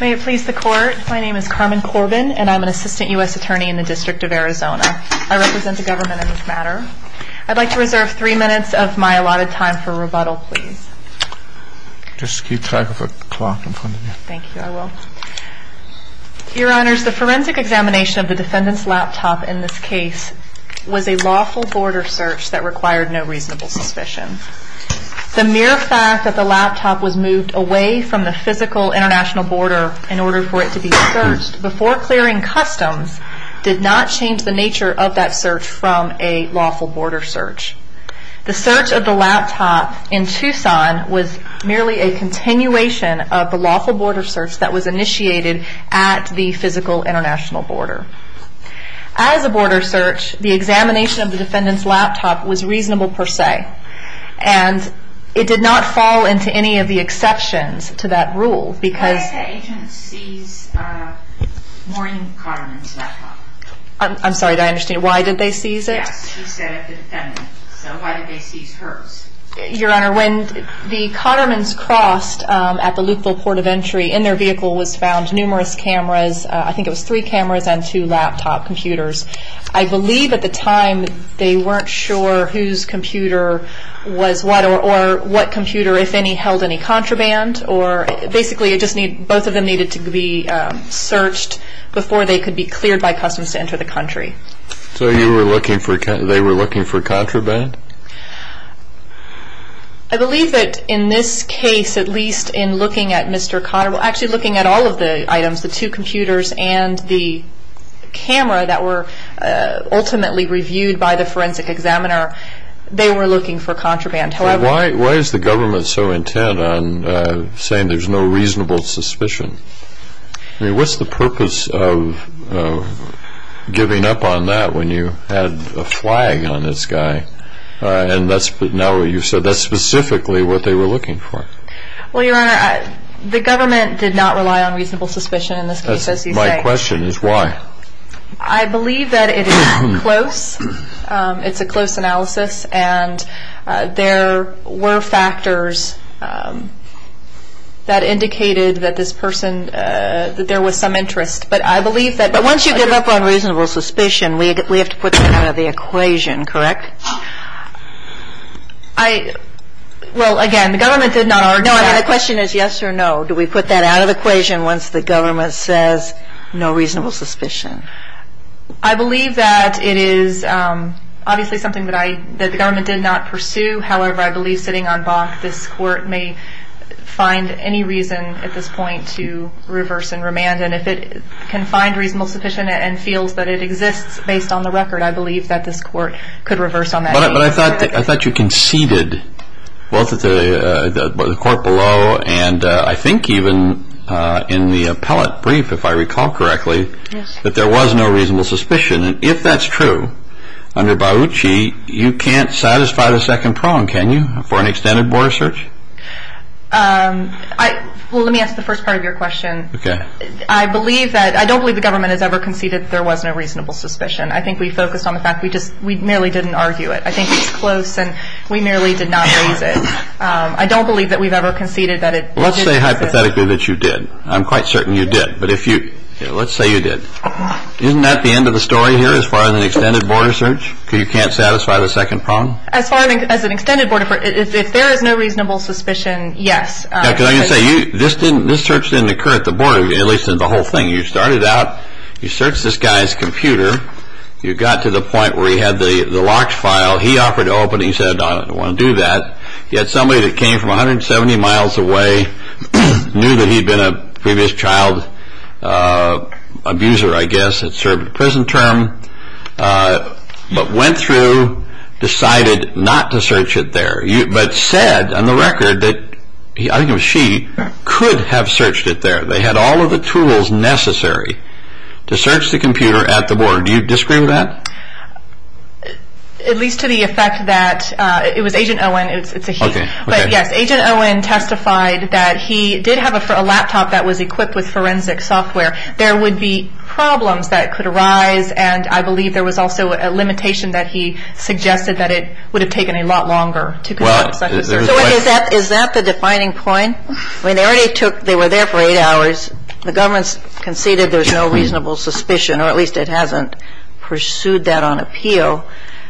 May it please the Court, my name is Carmen Corbin and I'm an Assistant U.S. Attorney in the District of Arizona. I represent the government in this matter. I'd like to reserve three minutes of my allotted time for rebuttal, please. Just keep track of the clock in front of you. Thank you, I will. Your Honors, the forensic examination of the defendant's laptop in this case was a lawful border search that required no reasonable suspicion. The mere fact that the laptop was moved away from the physical international border in order for it to be searched before clearing customs did not change the nature of that search from a lawful border search. The search of the laptop in Tucson was merely a continuation of the lawful border search that was initiated at the physical international border. As a border search, the examination of the defendant's laptop was reasonable per se. And it did not fall into any of the exceptions to that rule because... I'm sorry, did I understand, why did they seize it? Your Honor, when the Cotterman's crossed at the loophole port of entry, in their vehicle was found numerous cameras. I think it was three cameras and two laptop computers. I believe at the time they weren't sure whose computer was what or what computer, if any, held any contraband. Basically, both of them needed to be searched before they could be cleared by customs to enter the country. So they were looking for contraband? I believe that in this case, at least in looking at Mr. Cotterman, actually looking at all of the items, the two computers and the camera that were ultimately reviewed by the forensic examiner, they were looking for contraband. Why is the government so intent on saying there's no reasonable suspicion? I mean, what's the purpose of giving up on that when you had a flag on this guy? And now that you've said that, specifically what they were looking for? Well, Your Honor, the government did not rely on reasonable suspicion in this case, as you say. My question is why? I believe that it is close. It's a close analysis, and there were factors that indicated that this person, that there was some interest. But I believe that... But once you give up on reasonable suspicion, we have to put that out of the equation, correct? Well, again, the government did not... No, I mean, the question is yes or no. Do we put that out of the equation once the government says no reasonable suspicion? I believe that it is obviously something that the government did not pursue. However, I believe sitting on boss, this court may find any reason at this point to reverse and remand. And if it can find reasonable suspicion and feels that it exists based on the record, I believe that this court could reverse on that. But I thought you conceded, both at the court below and I think even in the appellate brief, if I recall correctly, that there was no reasonable suspicion. And if that's true, under Bauchi, you can't satisfy the second prong, can you, for an extended border search? Well, let me ask the first part of your question. I believe that... I don't believe the government has ever conceded that there was no reasonable suspicion. I think we focus on the fact we merely didn't argue it. I think it's close, and we merely did not raise it. I don't believe that we've ever conceded that it... Let's say hypothetically that you did. I'm quite certain you did. But if you... Let's say you did. Isn't that the end of the story here as far as an extended border search? You can't satisfy the second prong? As far as an extended border search, if there is no reasonable suspicion, yes. This search didn't occur at the border, at least in the whole thing. You started out, you searched this guy's computer, you got to the point where he had the locked file. He offered to open it. He said, I don't want to do that. He had somebody that came from 170 miles away, knew that he'd been a previous child abuser, I guess, had served a prison term, but went through, decided not to search it there, but said on the record that he, I think it was she, could have searched it there. They had all of the tools necessary to search the computer at the border. Do you disagree with that? At least to the effect that it was Agent Owen. But, yes, Agent Owen testified that he did have a laptop that was equipped with forensic software. There would be problems that could arise, and I believe there was also a limitation that he suggested that it would have taken a lot longer. Is that the defining point? They were there for eight hours. The government conceded there's no reasonable suspicion, or at least it hasn't pursued that on appeal.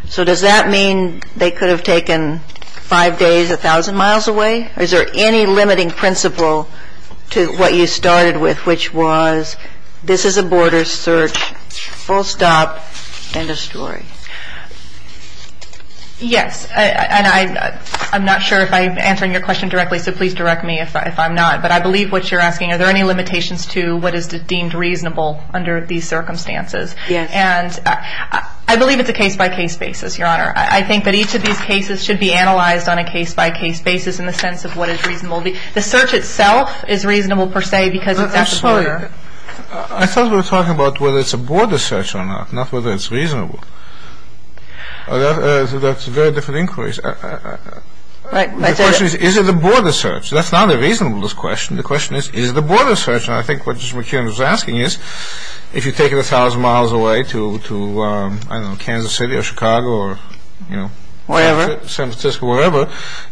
So does that mean they could have taken five days 1,000 miles away? Is there any limiting principle to what you started with, which was this is a border search, full stop, end of story? Yes, and I'm not sure if I'm answering your question directly, so please direct me if I'm not. But I believe what you're asking, are there any limitations to what is deemed reasonable under these circumstances? And I believe it's a case-by-case basis, Your Honor. I think that each of these cases should be analyzed on a case-by-case basis in the sense of what is reasonable. The search itself is reasonable, per se, because it's at the border. I thought we were talking about whether it's a border search or not, not whether it's reasonable. That's a very different inquiry. The question is, is it a border search? That's not a reasonableness question. The question is, is it a border search? And I think what Mr. McKinnon is asking is, if you take it 1,000 miles away to, I don't know, Kansas City or Chicago or San Francisco or whatever,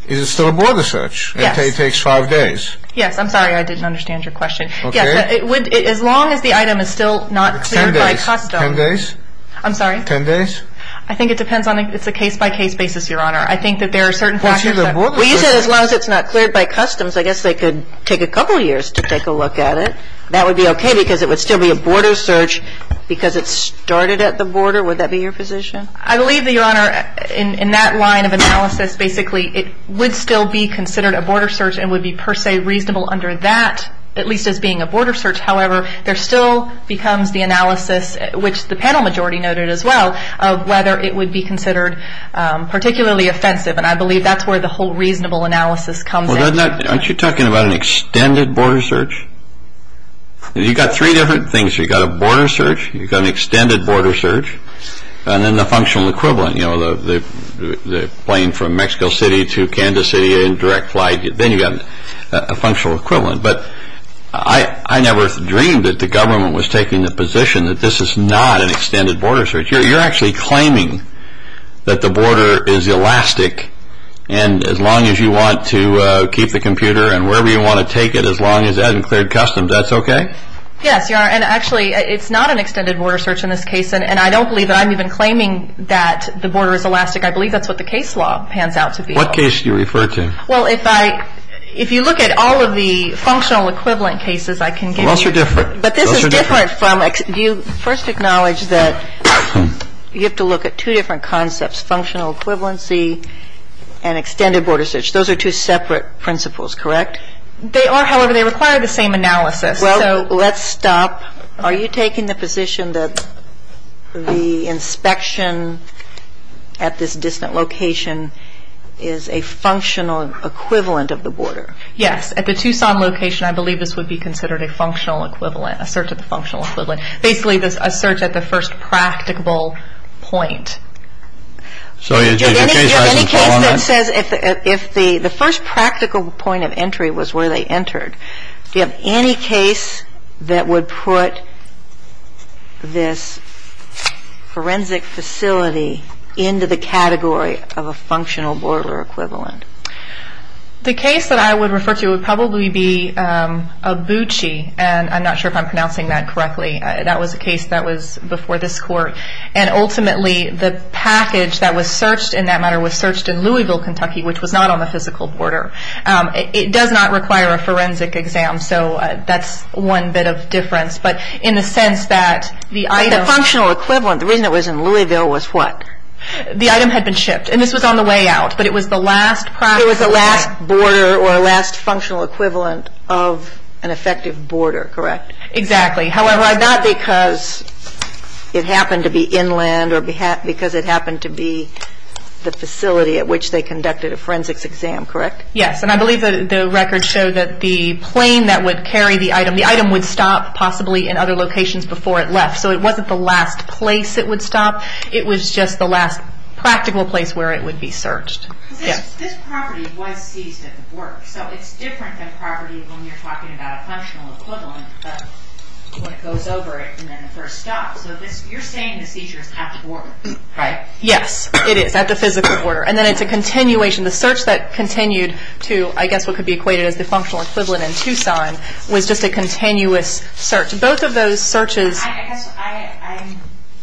is it still a border search? It takes five days. Yes, I'm sorry, I didn't understand your question. As long as the item is still not cleared by Cut-Done. Ten days? I'm sorry? Ten days? I think it depends on the case-by-case basis, Your Honor. I think that there are certain factors that... Well, you said as long as it's not cleared by Customs, I guess they could take a couple of years to take a look at it. That would be okay because it would still be a border search because it started at the border. Would that be your position? I believe that, Your Honor, in that line of analysis, basically, it would still be considered a border search and would be, per se, reasonable under that, at least as being a border search. However, there still becomes the analysis, which the panel majority noted as well, of whether it would be considered particularly offensive, and I believe that's where the whole reasonable analysis comes in. Aren't you talking about an extended border search? You've got three different things. You've got a border search, you've got an extended border search, and then the functional equivalent, you know, the plane from Mexico City to Kansas City in direct flight. Then you've got a functional equivalent. But I never dreamed that the government was taking the position that this is not an extended border search. You're actually claiming that the border is elastic and as long as you want to keep the computer and wherever you want to take it as long as it hasn't cleared Customs, that's okay? Yes, Your Honor, and actually, it's not an extended border search in this case, and I don't believe that I'm even claiming that the border is elastic. I believe that's what the case law pans out to be. What case do you refer to? Well, if you look at all of the functional equivalent cases I can give you. Those are different. But this is different. Do you first acknowledge that you have to look at two different concepts, functional equivalency and extended border search? Those are two separate principles, correct? They are, however, they require the same analysis. So let's stop. Are you taking the position that the inspection at this distant location is a functional equivalent of the border? Yes. At the Tucson location, I believe this would be considered a functional equivalent, a search of the functional equivalent. Basically, a search at the first practicable point. So is there a case that says if the first practical point of entry was where they entered, do you have any case that would put this forensic facility into the category of a functional border equivalent? The case that I would refer to would probably be Abuchi, and I'm not sure if I'm pronouncing that correctly. That was a case that was before this Court. And ultimately, the package that was searched in that matter was searched in Louisville, Kentucky, which was not on the physical border. It does not require a forensic exam, so that's one bit of difference. But in the sense that the item- The functional equivalent, the reason it was in Louisville was what? The item had been shipped. And this was on the way out, but it was the last practical point. It was the last border or last functional equivalent of an effective border, correct? Exactly. However, not because it happened to be inland or because it happened to be the facility at which they conducted a forensics exam, correct? Yes, and I believe the records show that the plane that would carry the item, the item would stop possibly in other locations before it left. So it wasn't the last place it would stop. It was just the last practical place where it would be searched. This property was seized at the border. So it's different than property when we're talking about a functional equivalent, but when it goes over, it's in the first stop. So you're saying that these are at the border, correct? Yes, it is. That's the physical border. And then it's a continuation. The search that continued to, I guess what could be equated as a functional equivalent in Tucson, was just a continuous search. Both of those searches-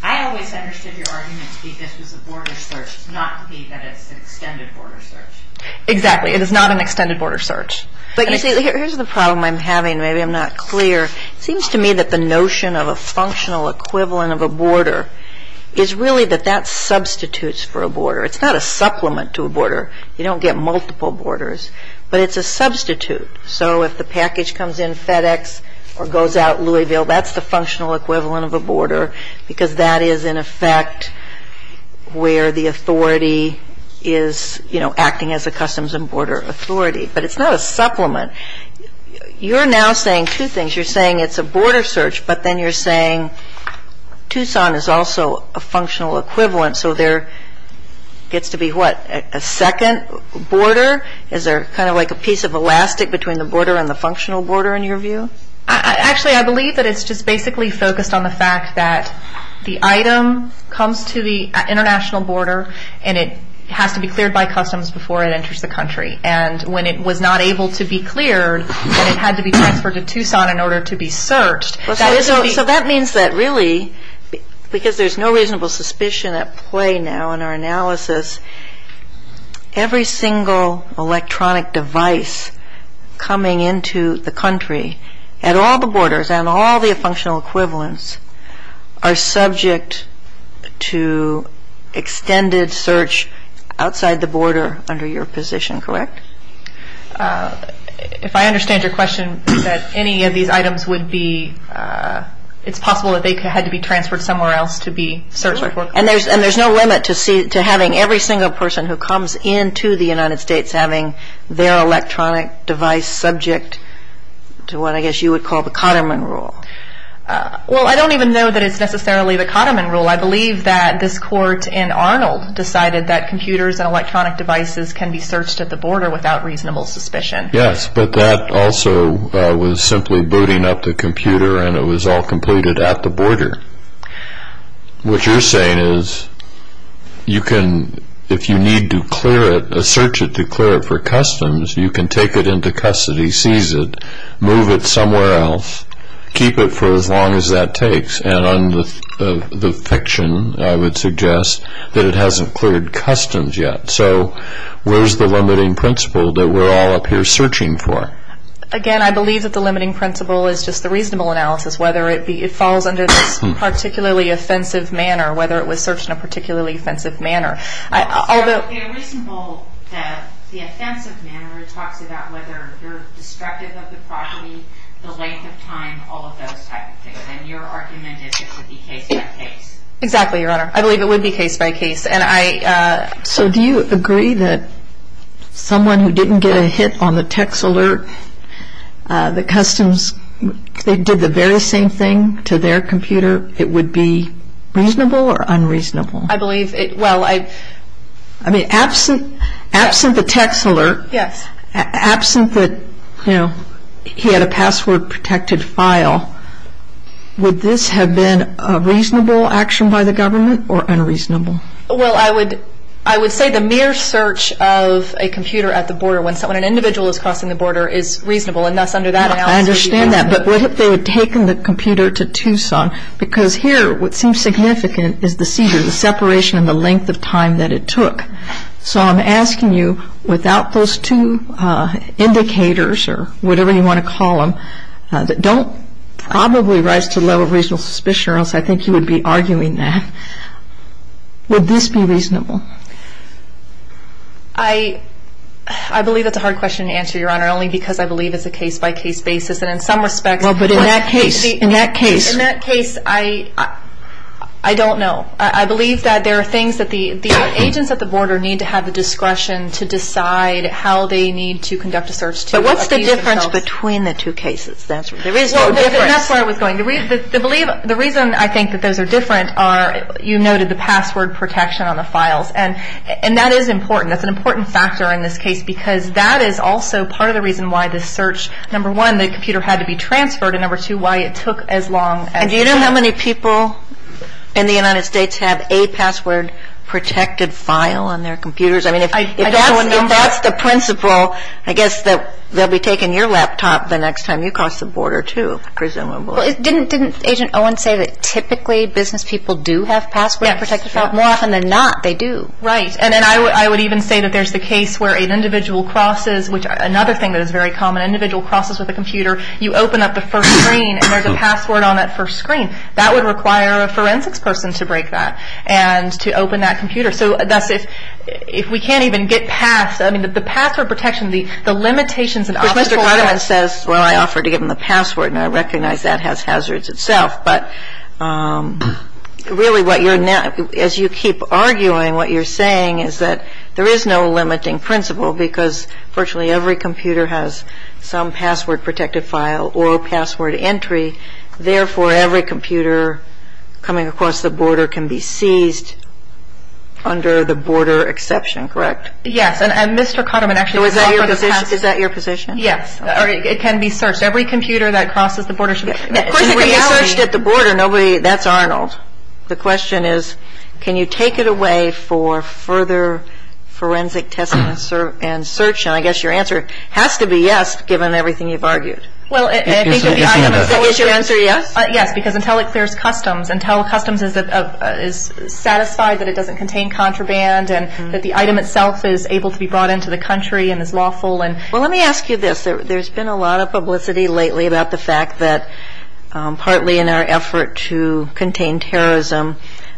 I always understood your argument to be this is a border search, not an extended border search. Exactly. It is not an extended border search. But you see, here's the problem I'm having. Maybe I'm not clear. It seems to me that the notion of a functional equivalent of a border is really that that substitutes for a border. It's not a supplement to a border. You don't get multiple borders, but it's a substitute. So if the package comes in FedEx or goes out Louisville, that's the functional equivalent of a border, because that is, in effect, where the authority is acting as a customs and border authority. But it's not a supplement. You're now saying two things. You're saying it's a border search, but then you're saying Tucson is also a functional equivalent, so there gets to be, what, a second border? Is there kind of like a piece of elastic between the border and the functional border, in your view? Actually, I believe that it's just basically focused on the fact that the item comes to the international border and it has to be cleared by customs before it enters the country. And when it was not able to be cleared, it had to be transferred to Tucson in order to be searched. So that means that really, because there's no reasonable suspicion at play now in our analysis, every single electronic device coming into the country at all the borders and all the functional equivalents are subject to extended search outside the border under your position, correct? If I understand your question, that any of these items would be, it's possible that they had to be transferred somewhere else to be searched. And there's no limit to having every single person who comes into the United States having their electronic device subject to what I guess you would call the Cotterman Rule. Well, I don't even know that it's necessarily the Cotterman Rule. I believe that this court in Arnold decided that computers and electronic devices can be searched at the border without reasonable suspicion. Yes, but that also was simply booting up the computer and it was all completed at the border. What you're saying is you can, if you need to clear it, search it to clear it for customs, you can take it into custody, seize it, move it somewhere else, keep it for as long as that takes. And on the fiction, I would suggest that it hasn't cleared customs yet. So where's the limiting principle that we're all up here searching for? Again, I believe that the limiting principle is just the reasonable analysis, whether it falls under the particularly offensive manner, whether it was searched in a particularly offensive manner. The reasonable, the offensive manner is talked about whether there's destructive of the property, the length of time, all of those types of things. And your argument is it would be case by case. Exactly, Your Honor. I believe it would be case by case. So do you agree that someone who didn't get a hit on the text alert, the customs, they did the very same thing to their computer, it would be reasonable or unreasonable? I believe, well, I... I mean, absent the text alert, absent that, you know, he had a password protected file, would this have been a reasonable action by the government or unreasonable? Well, I would say the mere search of a computer at the border, when an individual is crossing the border, is reasonable, and that's under that analysis. I understand that, but what if they had taken the computer to Tucson? Because here what seems significant is the seizure, the separation and the length of time that it took. So I'm asking you, without those two indicators, or whatever you want to call them, that don't probably rise to the level of reasonable suspicion, or else I think you would be arguing that, would this be reasonable? I believe it's a hard question to answer, Your Honor, only because I believe it's a case-by-case basis, and in some respects... Well, but in that case, in that case... In that case, I don't know. I believe that there are things that the agents at the border need to have the discretion to decide how they need to conduct the first... But what's the difference between the two cases? That's why I was going to read this. The reason I think that those are different are you noted the password protection on the files, and that is important. That's an important factor in this case, because that is also part of the reason why this search, number one, the computer had to be transferred, and number two, why it took as long as... And do you know how many people in the United States have a password-protected file on their computers? If that's the principle, I guess they'll be taking your laptop the next time you cross the border, too, presumably. Didn't Agent Owen say that typically business people do have password-protected files? More often than not, they do. Right, and I would even say that there's the case where an individual crosses, which another thing that is very common, an individual crosses with a computer, you open up the first screen, and there's a password on that first screen. That would require a forensics person to break that and to open that computer. So that's if we can't even get past, I mean, the password protection, the limitations... Well, I offered to give them the password, and I recognize that has hazards itself. But really, as you keep arguing, what you're saying is that there is no limiting principle, because virtually every computer has some password-protected file or password entry. Therefore, every computer coming across the border can be seized under the border exception, correct? Yes, and Mr. Kahneman actually... Is that your position? Yes, it can be searched. Every computer that crosses the border should be seized. If it's searched at the border, that's Arnold. The question is, can you take it away for further forensic testing and search? And I guess your answer has to be yes, given everything you've argued. Well, I think that the item itself is... Your answer is yes? Yes, because until it clears customs, until customs is satisfied that it doesn't contain contraband and that the item itself is able to be brought into the country and is lawful and... Well, let me ask you this. There's been a lot of publicity lately about the fact that, partly in our effort to contain terrorism,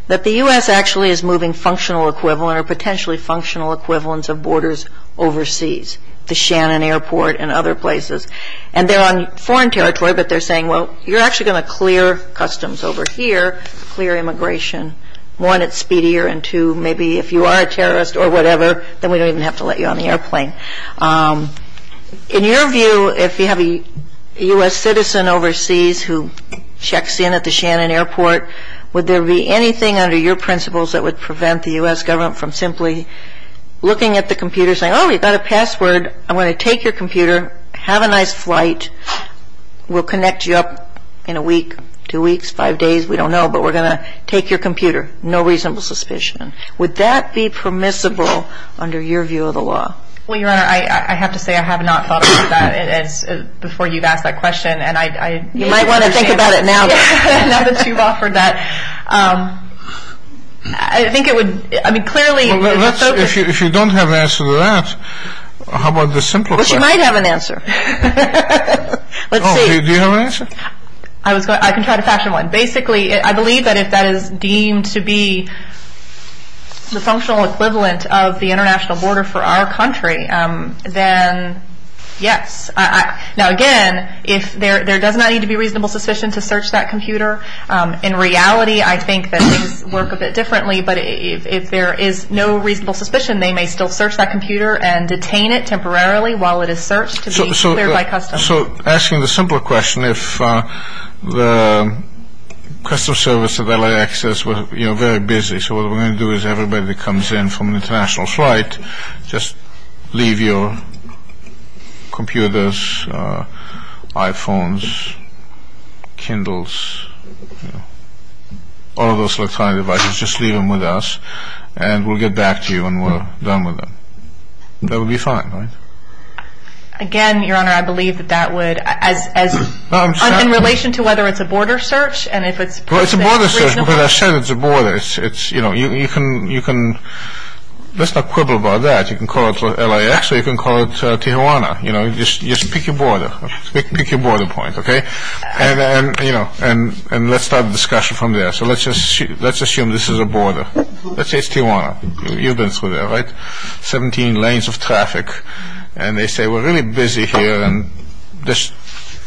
that the U.S. actually is moving functional equivalent or potentially functional equivalents of borders overseas, to Shannon Airport and other places. And they're on foreign territory, but they're saying, well, you're actually going to clear customs over here, clear immigration, one, it's speedier, and two, maybe if you are a terrorist or whatever, then we don't even have to let you on the airplane. In your view, if you have a U.S. citizen overseas who checks in at the Shannon Airport, would there be anything under your principles that would prevent the U.S. government from simply looking at the computer and saying, oh, we've got a password, I'm going to take your computer, have a nice flight, we'll connect you up in a week, two weeks, five days, we don't know, but we're going to take your computer. No reasonable suspicion. Would that be permissible under your view of the law? Well, Your Honor, I have to say I have not thought about that before you've asked that question, and I... You might want to think about it now that you've offered that. I think it would, I mean, clearly... If you don't have an answer to that, how about the simpler question? Well, she might have an answer. Let's see. Do you have an answer? I can try to fashion one. Basically, I believe that if that is deemed to be the functional equivalent of the international border for our country, then yes. Now, again, there does not need to be reasonable suspicion to search that computer. In reality, I think that things work a bit differently, but if there is no reasonable suspicion, they may still search that computer and detain it temporarily while it is searched to be cleared by customs. So, asking the simpler question, if the Customs Service of LAX is very busy, so what we're going to do is everybody that comes in from an international flight, just leave your computers, iPhones, Kindles, all those electronic devices, just leave them with us, and we'll get back to you when we're done with them. That would be fine, right? Again, Your Honor, I believe that that would... I'm sorry. In relation to whether it's a border search and if it's... Well, it's a border search, but I said it's a border. You can... Let's not quibble about that. You can call it LAX or you can call it Tijuana. Just pick your border. Pick your border point, okay? And let's start the discussion from there. So, let's assume this is a border. Let's say it's Tijuana. You've been through there, right? 17 lanes of traffic. And they say, we're really busy here, and just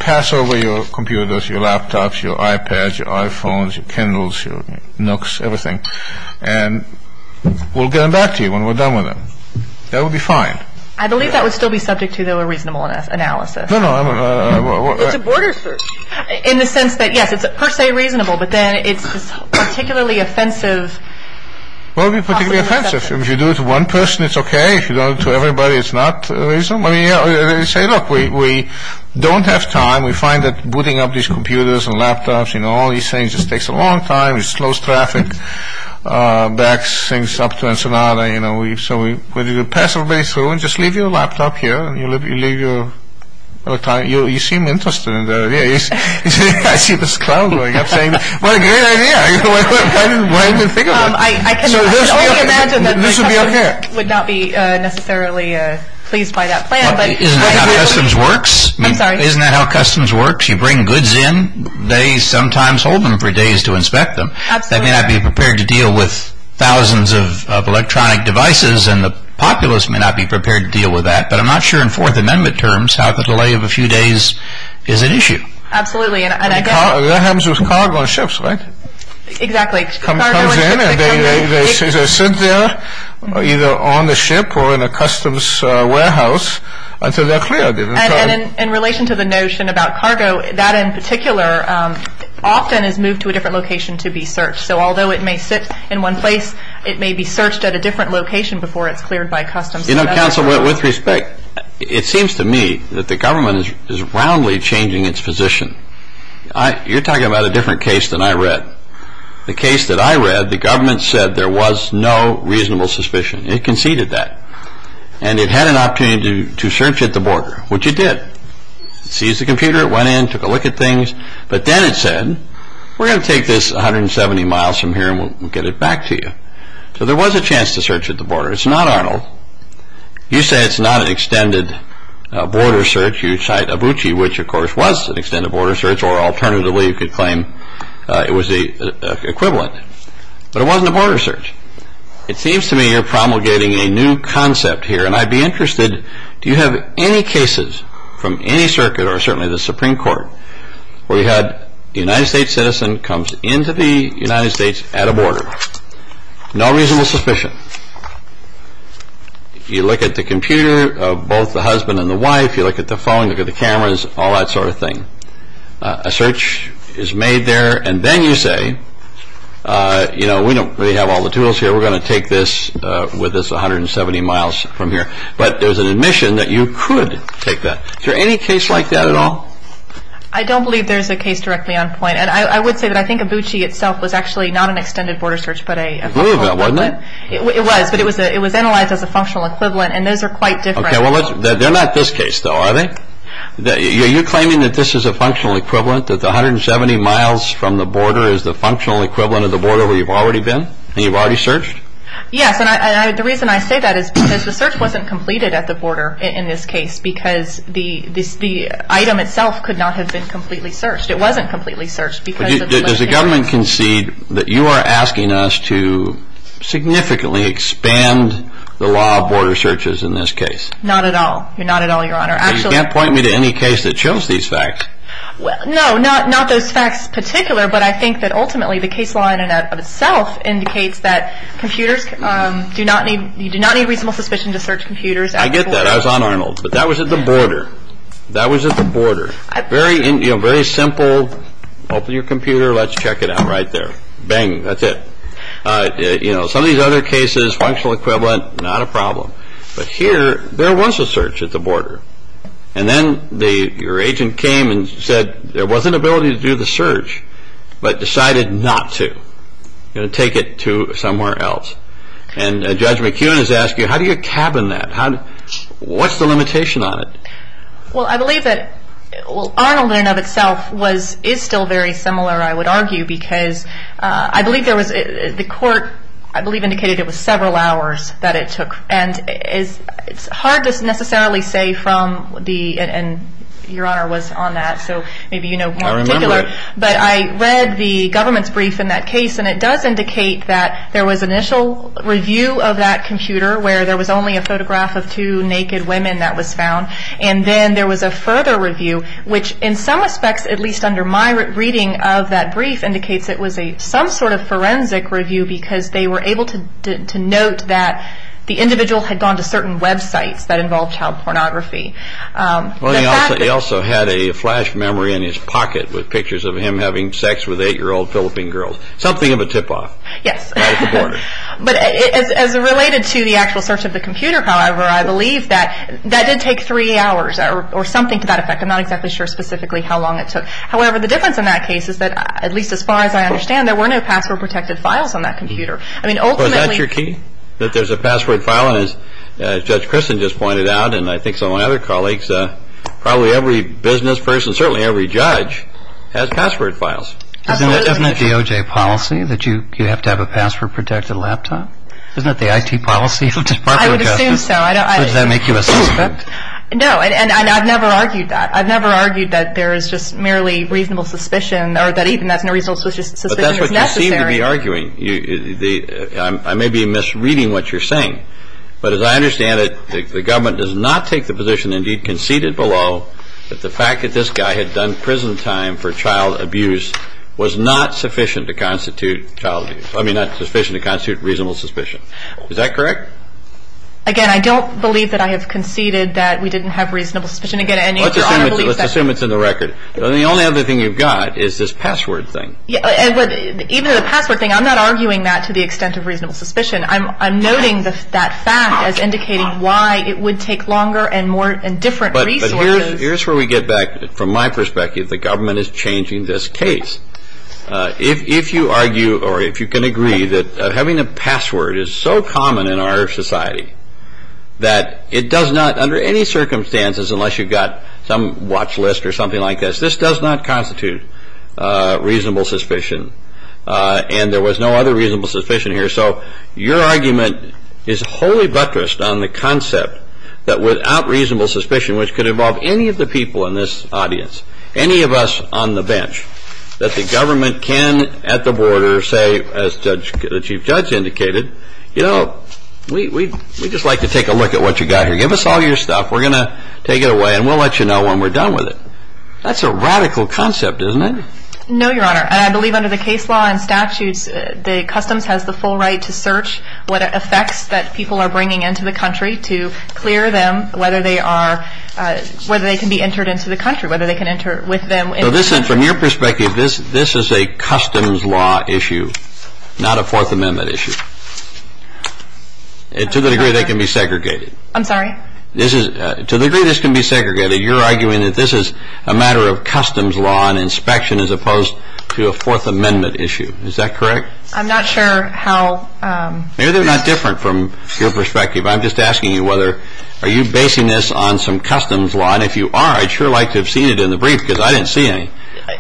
pass over your computers, your laptops, your iPads, your iPhones, your Kindles, your Nooks, everything, and we'll get back to you when we're done with them. That would be fine. I believe that would still be subject to a reasonable analysis. No, no. It's a border search. In the sense that, yes, it's per se reasonable, but then it's particularly offensive. Well, it would be particularly offensive. If you do it to one person, it's okay. If you do it to everybody, it's not reasonable. You say, look, we don't have time. We find that booting up these computers and laptops and all these things just takes a long time. It slows traffic back, syncs up to Ensenada. So, we pass a way through and just leave your laptop here. You seem interested in that idea. I see this crowd going. I'm saying, what a great idea. I didn't think of that. This would be on hand. I would not be necessarily pleased by that plan. Isn't that how customs works? I'm sorry. Isn't that how customs works? You bring goods in. They sometimes hold them for days to inspect them. Absolutely. They may not be prepared to deal with thousands of electronic devices, and the populace may not be prepared to deal with that. But I'm not sure in Fourth Amendment terms how the delay of a few days is an issue. Absolutely. That happens with cargo and ships, right? Exactly. They come in and they sit there, either on the ship or in a customs warehouse, until they're cleared. And in relation to the notion about cargo, that in particular, often is moved to a different location to be searched. So, although it may sit in one place, it may be searched at a different location before it's cleared by customs. You know, counsel, with respect, it seems to me that the government is roundly changing its position. You're talking about a different case than I read. The case that I read, the government said there was no reasonable suspicion. It conceded that. And it had an opportunity to search at the border, which it did. It seized the computer, it went in, took a look at things. But then it said, we're going to take this 170 miles from here, and we'll get it back to you. So there was a chance to search at the border. It's not Arnold. You say it's not an extended border search. You cite Abuchi, which, of course, was an extended border search, or alternatively you could claim it was the equivalent. But it wasn't a border search. It seems to me you're promulgating a new concept here, and I'd be interested, do you have any cases from any circuit, or certainly the Supreme Court, where you had a United States citizen comes into the United States at a border? No reasonable suspicion. You look at the computer of both the husband and the wife. You look at the phone, look at the cameras, all that sort of thing. A search is made there, and then you say, you know, we don't really have all the tools here. We're going to take this with us 170 miles from here. But there's an admission that you could take that. Is there any case like that at all? I don't believe there's a case directly on point. And I would say that I think Abuchi itself was actually not an extended border search. It was, but it was analyzed as a functional equivalent, and those are quite different. Yeah, well, they're not this case, though, are they? Are you claiming that this is a functional equivalent, that the 170 miles from the border is the functional equivalent of the border where you've already been and you've already searched? Yes, and the reason I say that is because the search wasn't completed at the border in this case because the item itself could not have been completely searched. It wasn't completely searched. Does the government concede that you are asking us to significantly expand the law of border searches in this case? Not at all. Not at all, Your Honor. You can't point me to any case that shows these facts. No, not those facts in particular, but I think that ultimately the case law in and of itself indicates that computers do not need reasonable suspicion to search computers at the border. I get that. I was on Arnold, but that was at the border. That was at the border. Very simple, open your computer, let's check it out right there. Bang, that's it. Some of these other cases, functional equivalent, not a problem. But here, there was a search at the border. And then your agent came and said there was an ability to do the search, but decided not to, to take it to somewhere else. And Judge McKeown is asking, how do you cabin that? What's the limitation on it? Well, I believe that Arnold in and of itself is still very similar, I would argue, because I believe there was, the court, I believe, indicated it was several hours that it took. And it's hard to necessarily say from the, and Your Honor was on that, so maybe you know more in particular. I remember it. But I read the government's brief in that case, and it does indicate that there was initial review of that computer, where there was only a photograph of two naked women that was found. And then there was a further review, which in some respects, at least under my reading of that brief, indicates it was some sort of forensic review, because they were able to note that the individual had gone to certain websites that involved child pornography. Well, he also had a flash memory in his pocket with pictures of him having sex with eight-year-old Philippine girls. Something of a tip-off. Yes. At the border. But as related to the actual search of the computer, however, I believe that that did take three hours or something to that effect. I'm not exactly sure specifically how long it took. However, the difference in that case is that, at least as far as I understand, there were no password-protected files on that computer. I mean, ultimately- Well, is that your key? That there's a password file? And as Judge Christin just pointed out, and I think so my other colleagues, probably every business person, certainly every judge, has password files. Isn't that the OJ policy, that you have to have a password-protected laptop? Isn't that the IT policy? I would assume so. Does that make you a suspect? No, and I've never argued that. I've never argued that there is just merely reasonable suspicion or that even that reasonable suspicion is necessary. But that's what you seem to be arguing. I may be misreading what you're saying. But as I understand it, the government does not take the position, indeed conceded below, that the fact that this guy had done prison time for child abuse was not sufficient to constitute reasonable suspicion. Is that correct? Again, I don't believe that I have conceded that we didn't have reasonable suspicion. Let's assume it's in the record. The only other thing you've got is this password thing. Even the password thing, I'm not arguing that to the extent of reasonable suspicion. I'm noting that fact as indicating why it would take longer and different resources- But here's where we get back, from my perspective, the government is changing this case. If you argue or if you can agree that having a password is so common in our society that it does not, under any circumstances, unless you've got some watch list or something like this, this does not constitute reasonable suspicion. And there was no other reasonable suspicion here. So your argument is wholly buttressed on the concept that without reasonable suspicion, which could involve any of the people in this audience, any of us on the bench, that the government can, at the border, say, as the Chief Judge indicated, you know, we'd just like to take a look at what you've got here. Give us all your stuff. We're going to take it away and we'll let you know when we're done with it. That's a radical concept, isn't it? No, Your Honor. I believe under the case law and statutes, the customs has the full right to search what effects that people are bringing into the country to clear them whether they can be entered into the country, whether they can enter with them. So this is, from your perspective, this is a customs law issue, not a Fourth Amendment issue. To the degree they can be segregated. I'm sorry? To the degree this can be segregated, you're arguing that this is a matter of customs law and inspection as opposed to a Fourth Amendment issue. Is that correct? I'm not sure how... Maybe they're not different from your perspective. I'm just asking you whether are you basing this on some customs law? And if you are, I'd sure like to have seen it in the brief because I didn't see any.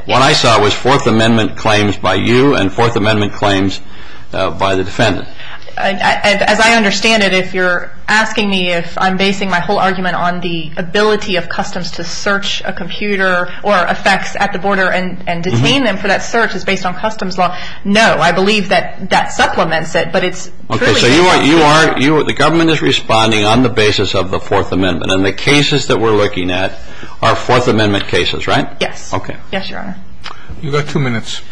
What I saw was Fourth Amendment claims by you and Fourth Amendment claims by the defendant. As I understand it, if you're asking me if I'm basing my whole argument on the ability of customs to search a computer or a fax at the border and detain them for that search is based on customs law, no, I believe that that supplements it, but it's... Okay, so the government is responding on the basis of the Fourth Amendment and the cases that we're looking at are Fourth Amendment cases, right? Yes. Okay. Yes, Your Honor. You've got two minutes.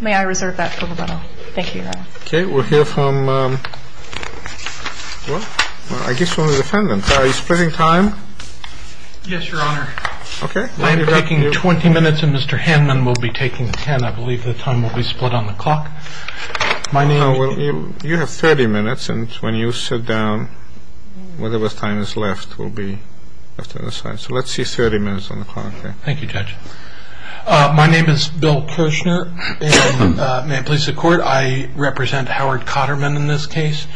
May I reserve that for the middle? Thank you, Your Honor. Okay, we're here from, I guess from the defendant. Are you splitting time? Yes, Your Honor. Okay. I'm taking 20 minutes and Mr. Handman will be taking 10. I believe the time will be split on the clock. You have 30 minutes and when you sit down, whatever time is left will be set aside. So let's see 30 minutes on the clock. Thank you, Judge. My name is Bill Kirchner and may it please the Court, I represent Howard Cotterman in this case.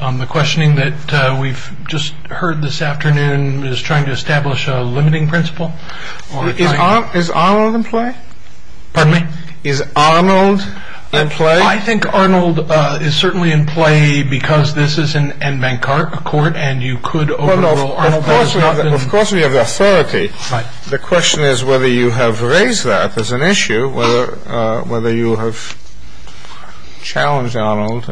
The questioning that we've just heard this afternoon is trying to establish a limiting principle. Is Arnold in play? Pardon me? Is Arnold in play? I think Arnold is certainly in play because this is an N. Van Karp Court and you could overrule Arnold. Of course we have the authority. The question is whether you have raised that as an issue, whether you have challenged Arnold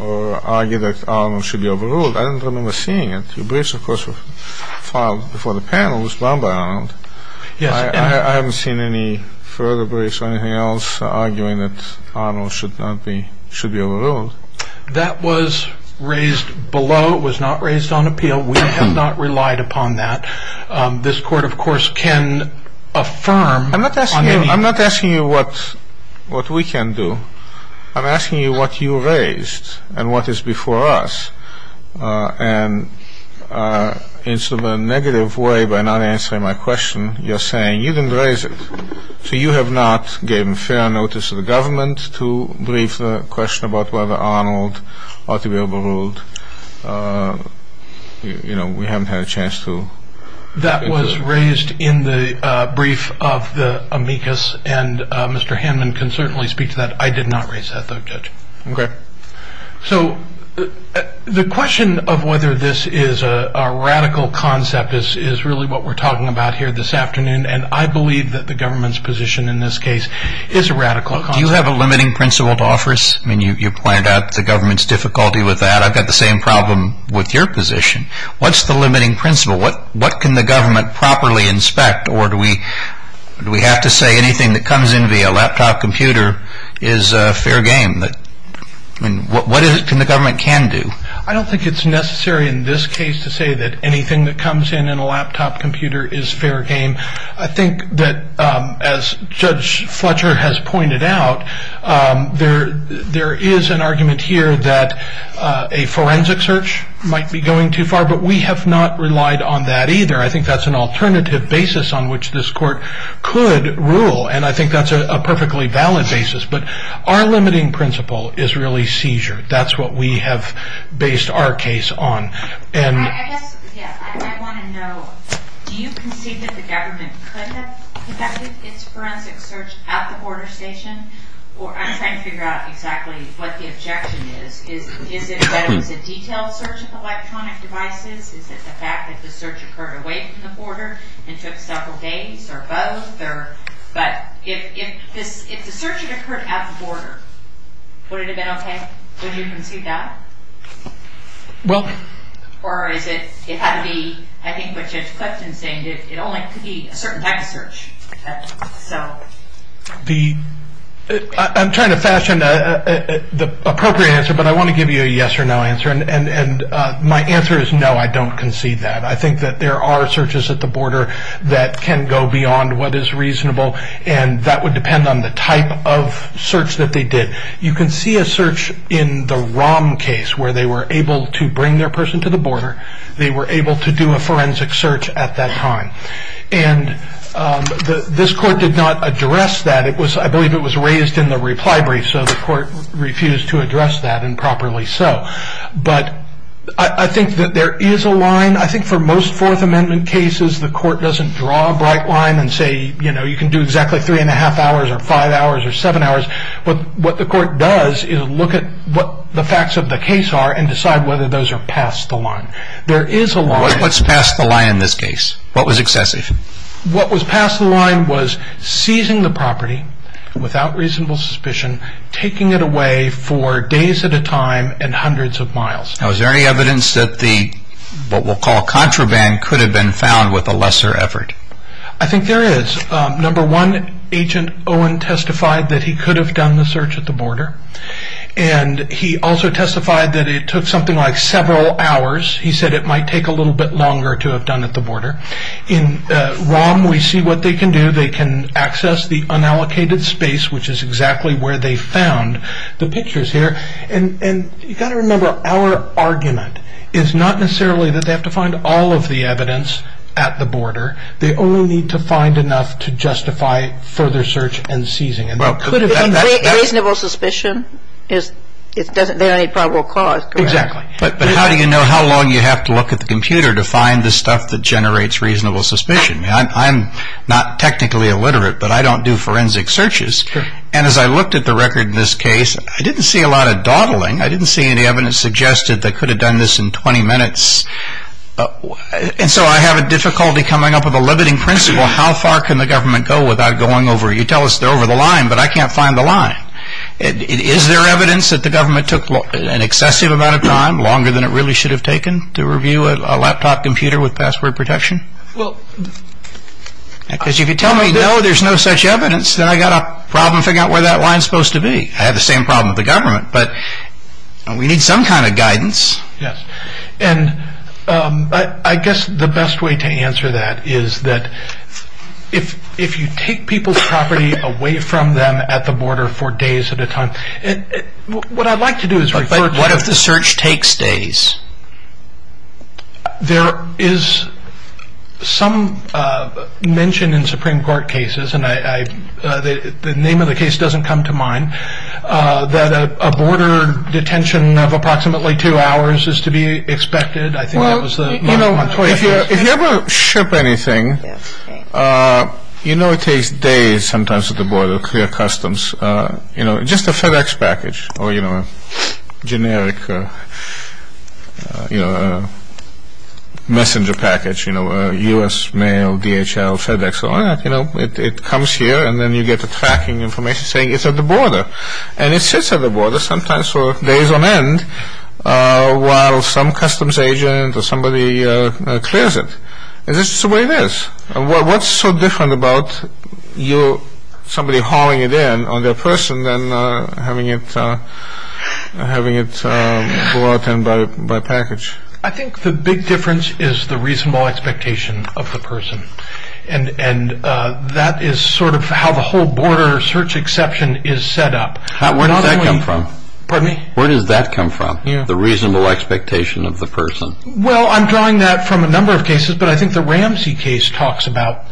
or argued that Arnold should be overruled. I don't remember seeing it. Your briefs, of course, were filed before the panel. It was drawn by Arnold. I haven't seen any further briefs or anything else arguing that Arnold should be overruled. That was raised below. It was not raised on appeal. We have not relied upon that. This Court, of course, can affirm. I'm not asking you what we can do. I'm asking you what you raised and what is before us. And in some negative way by not answering my question, you're saying you didn't raise it. So you have not given fair notice to the government to brief the question about whether Arnold ought to be overruled. You know, we haven't had a chance to. That was raised in the brief of the amicus and Mr. Hanman can certainly speak to that. I did not raise that though, Judge. Okay. So the question of whether this is a radical concept is really what we're talking about here this afternoon, and I believe that the government's position in this case is a radical concept. Do you have a limiting principle to offer us? I mean, you pointed out the government's difficulty with that. I've got the same problem with your position. What's the limiting principle? What can the government properly inspect, or do we have to say anything that comes in via a laptop computer is fair game? What can the government can do? I don't think it's necessary in this case to say that anything that comes in in a laptop computer is fair game. I think that as Judge Fletcher has pointed out, there is an argument here that a forensic search might be going too far, but we have not relied on that either. I think that's an alternative basis on which this court could rule, and I think that's a perfectly valid basis. But our limiting principle is really seizure. That's what we have based our case on. I guess, yeah, I want to know, do you concede that the government could have conducted its forensic search at the border station? I'm trying to figure out exactly what the objection is. Is it that it's a detailed search of electronic devices? Is it the fact that the search occurred away from the border and took several days or both? But if the search had occurred at the border, would it have been okay? Would you concede that? Or is it it had to be, I think what Judge Fletcher is saying, it only has to be a certain type of search. I'm trying to fashion the appropriate answer, but I want to give you a yes or no answer. And my answer is no, I don't concede that. I think that there are searches at the border that can go beyond what is reasonable, and that would depend on the type of search that they did. You can see a search in the ROM case where they were able to bring their person to the border. They were able to do a forensic search at that time. And this court did not address that. I believe it was raised in the reply brief, so the court refused to address that improperly so. But I think that there is a line. I think for most Fourth Amendment cases the court doesn't draw a bright line and say, you know, you can do exactly three and a half hours or five hours or seven hours. But what the court does is look at what the facts of the case are and decide whether those are past the line. There is a line. What's past the line in this case? What was excessive? What was past the line was seizing the property without reasonable suspicion, taking it away for days at a time and hundreds of miles. Now, is there any evidence that what we'll call contraband could have been found with a lesser effort? I think there is. Number one, Agent Owen testified that he could have done the search at the border. And he also testified that it took something like several hours. He said it might take a little bit longer to have done at the border. In ROM, we see what they can do. They can access the unallocated space, which is exactly where they found the pictures here. And you've got to remember, our argument is not necessarily that they have to find all of the evidence at the border. They only need to find enough to justify further search and seizing. Reasonable suspicion is the only probable cause. Exactly. But how do you know how long you have to look at the computer to find the stuff that generates reasonable suspicion? I'm not technically illiterate, but I don't do forensic searches. And as I looked at the record in this case, I didn't see a lot of dawdling. I didn't see any evidence suggested that could have done this in 20 minutes. And so I have a difficulty coming up with a limiting principle. How far can the government go without going over? You tell us they're over the line, but I can't find the line. Is there evidence that the government took an excessive amount of time, longer than it really should have taken, to review a laptop computer with password protection? Because if you tell me no, there's no such evidence, then I've got to problem figure out where that line is supposed to be. I have the same problem with the government, but we need some kind of guidance. Yes. And I guess the best way to answer that is that if you take people's property away from them at the border for days at a time, what I'd like to do is... What if the search takes days? There is some mention in Supreme Court cases, and the name of the case doesn't come to mind, that a border detention of approximately two hours is to be expected. Well, you know, if you ever ship anything, you know it takes days sometimes at the border to clear customs. Just a FedEx package or a generic messenger package, U.S. mail, DHL, FedEx, it comes here and then you get the tracking information saying it's at the border. And it sits at the border sometimes for days on end, while some customs agent or somebody clears it. That's just the way it is. What's so different about somebody hauling it in on their person than having it brought in by package? I think the big difference is the reasonable expectation of the person. And that is sort of how the whole border search exception is set up. Where does that come from? Pardon me? Where does that come from, the reasonable expectation of the person? Well, I'm drawing that from a number of cases, but I think the Ramsey case talks about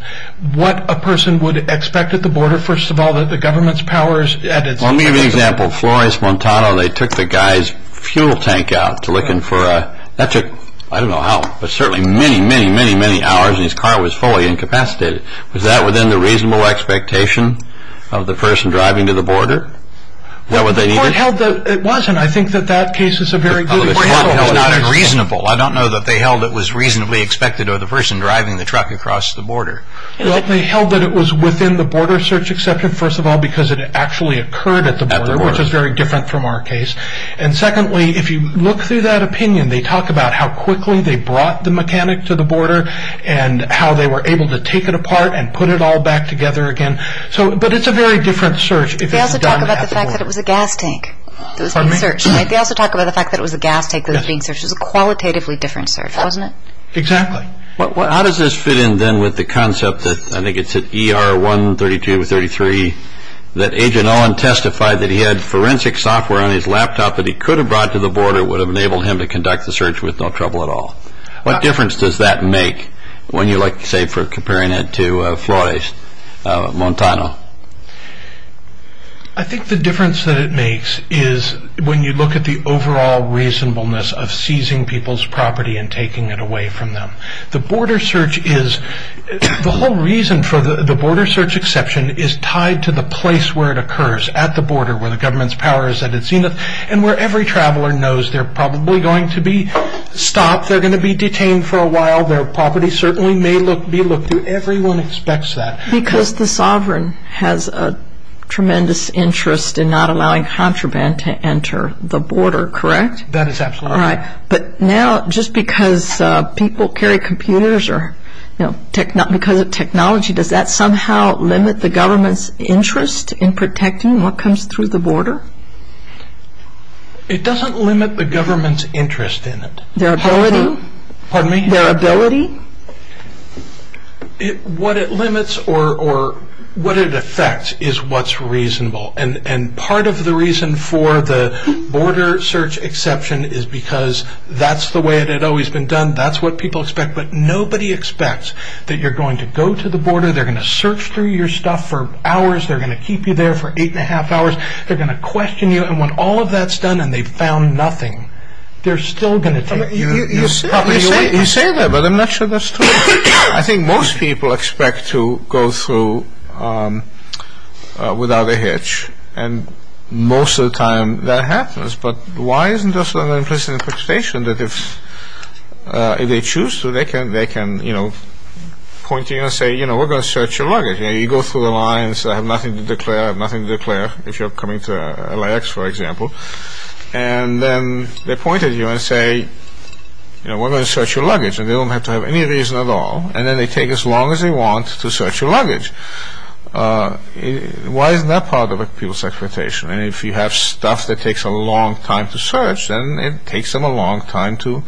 what a person would expect at the border, first of all, that the government's powers... Well, let me give you an example. Flores, Montana, they took the guy's fuel tank out to look in for a... That took, I don't know how, but certainly many, many, many, many hours and his car was fully incapacitated. Was that within the reasonable expectation of the person driving to the border? It wasn't. I think that that case is a very good point. It's not unreasonable. I don't know that they held it was reasonably expected of the person driving the truck across the border. They held that it was within the border search exception, first of all, because it actually occurred at the border, which is very different from our case. And secondly, if you look through that opinion, they talk about how quickly they brought the mechanic to the border and how they were able to take it apart and put it all back together again. But it's a very different search. They also talk about the fact that it was a gas tank that was being searched. Pardon me? They also talk about the fact that it was a gas tank that was being searched. It was a qualitatively different search, wasn't it? Exactly. How does this fit in, then, with the concept that, I think it's at ER 13233, that Agent Owen testified that he had forensic software on his laptop that he could have brought to the border that would have enabled him to conduct the search with no trouble at all? What difference does that make when you, like, say, compare that to Flores, Montano? I think the difference that it makes is when you look at the overall reasonableness of seizing people's property and taking it away from them. The border search is, the whole reason for the border search exception is tied to the place where it occurs, at the border, where the government's power is at its zenith, and where every traveler knows they're probably going to be stopped, they're going to be detained for a while, their property certainly may be looked through. Everyone expects that. Because the sovereign has a tremendous interest in not allowing contraband to enter the border, correct? That is absolutely correct. All right. But now, just because people carry computers or, you know, because of technology, does that somehow limit the government's interest in protecting what comes through the border? It doesn't limit the government's interest in it. Their ability? Pardon me? Their ability? What it limits or what it affects is what's reasonable. And part of the reason for the border search exception is because that's the way it had always been done, that's what people expect, but nobody expects that you're going to go to the border, they're going to search through your stuff for hours, they're going to keep you there for eight and a half hours, they're going to question you, and when all of that's done and they've found nothing, they're still going to take you. You say that, but I'm not sure that's true. I think most people expect to go through without a hitch, and most of the time that happens, but why isn't this an implicit infestation that if they choose to, they can point to you and say, you know, we're going to search your luggage, and you go through the lines, I have nothing to declare, I have nothing to declare, if you're coming to LAX, for example, and then they point at you and say, you know, we're going to search your luggage, and they don't have to have any reason at all, and then they take as long as they want to search your luggage. Why isn't that part of people's expectation? And if you have stuff that takes a long time to search, then it takes them a long time to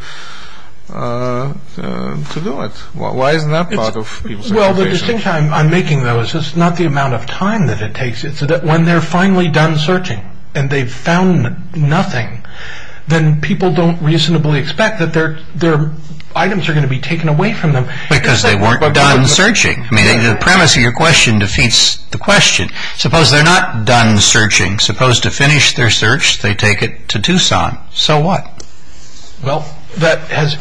do it. Why isn't that part of people's expectation? Well, the distinction I'm making, though, is it's not the amount of time that it takes, it's that when they're finally done searching and they've found nothing, then people don't reasonably expect that their items are going to be taken away from them. Because they weren't done searching. I mean, the premise of your question defeats the question. Suppose they're not done searching. Suppose to finish their search, they take it to Tucson. So what? Well, that has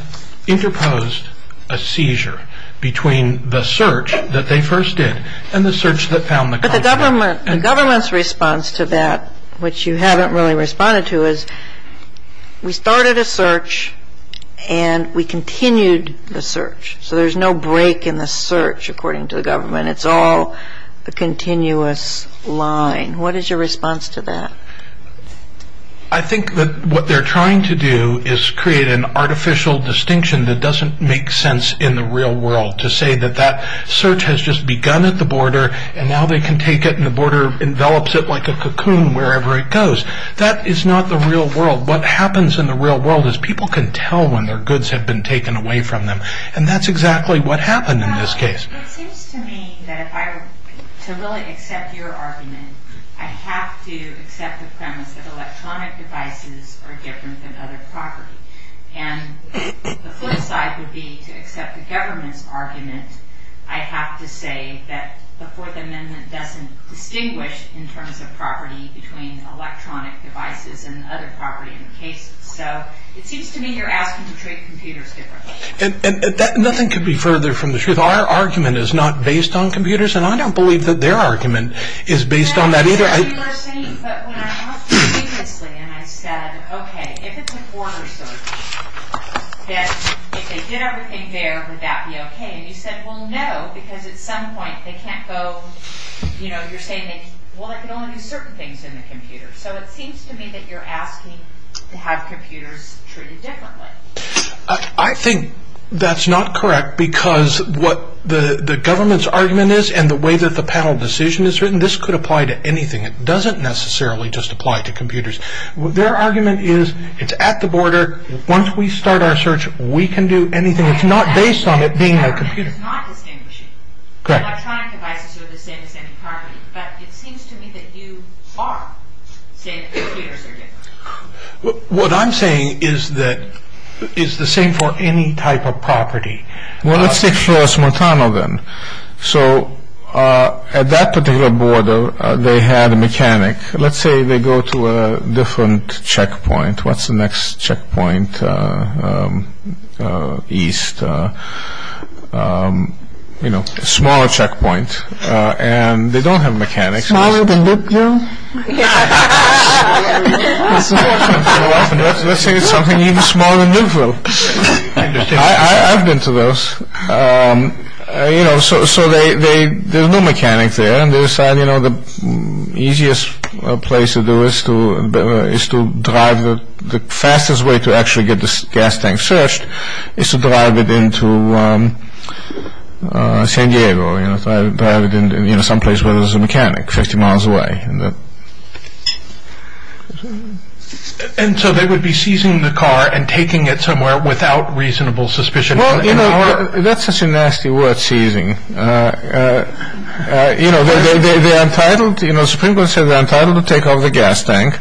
interposed a seizure between the search that they first did and the search that found the car. But the government's response to that, which you haven't really responded to, is, we started a search, and we continued the search. So there's no break in the search, according to the government. It's all a continuous line. What is your response to that? I think that what they're trying to do is create an artificial distinction that doesn't make sense in the real world, to say that that search has just begun at the border, and now they can take it, and the border envelops it like a cocoon wherever it goes. That is not the real world. What happens in the real world is people can tell when their goods have been taken away from them. And that's exactly what happened in this case. It seems to me that if I were to really accept your argument, I have to accept the premise that electronic devices are different than other properties. And the flip side would be, to accept the government's argument, I have to say that the Fourth Amendment doesn't distinguish in terms of property between electronic devices and other properties in the case. So it seems to me you're asking to treat computers differently. Nothing could be further from the truth. Our argument is not based on computers, and I don't believe that their argument is based on that either. You were saying, but when I talked to you previously and I said, okay, if it's a border search, that if they did everything there, would that be okay? And you said, well, no, because at some point they can't go, you know, you're saying, well, they can only do certain things in the computer. So it seems to me that you're asking to have computers treated differently. I think that's not correct, because what the government's argument is and the way that the panel decision is written, this could apply to anything. It doesn't necessarily just apply to computers. Their argument is it's at the border. Once we start our search, we can do anything. It's not based on it being a computer. What I'm saying is that it's the same for any type of property. Well, let's take, for instance, Montana then. So at that particular border, they had a mechanic. Let's say they go to a different checkpoint. What's the next checkpoint? East. You know, a smaller checkpoint. And they don't have mechanics. Let's say it's something even smaller than Israel. I've been to those. You know, so there's no mechanic there. And they decide, you know, the easiest place to do it is to drive. The fastest way to actually get this gas tank searched is to drive it into San Diego. You know, drive it into someplace where there's a mechanic 50 miles away. And so they would be seizing the car and taking it somewhere without reasonable suspicion. You know, that's such a nasty word, seizing. You know, they're entitled to, you know, Supreme Court said they're entitled to take over the gas tank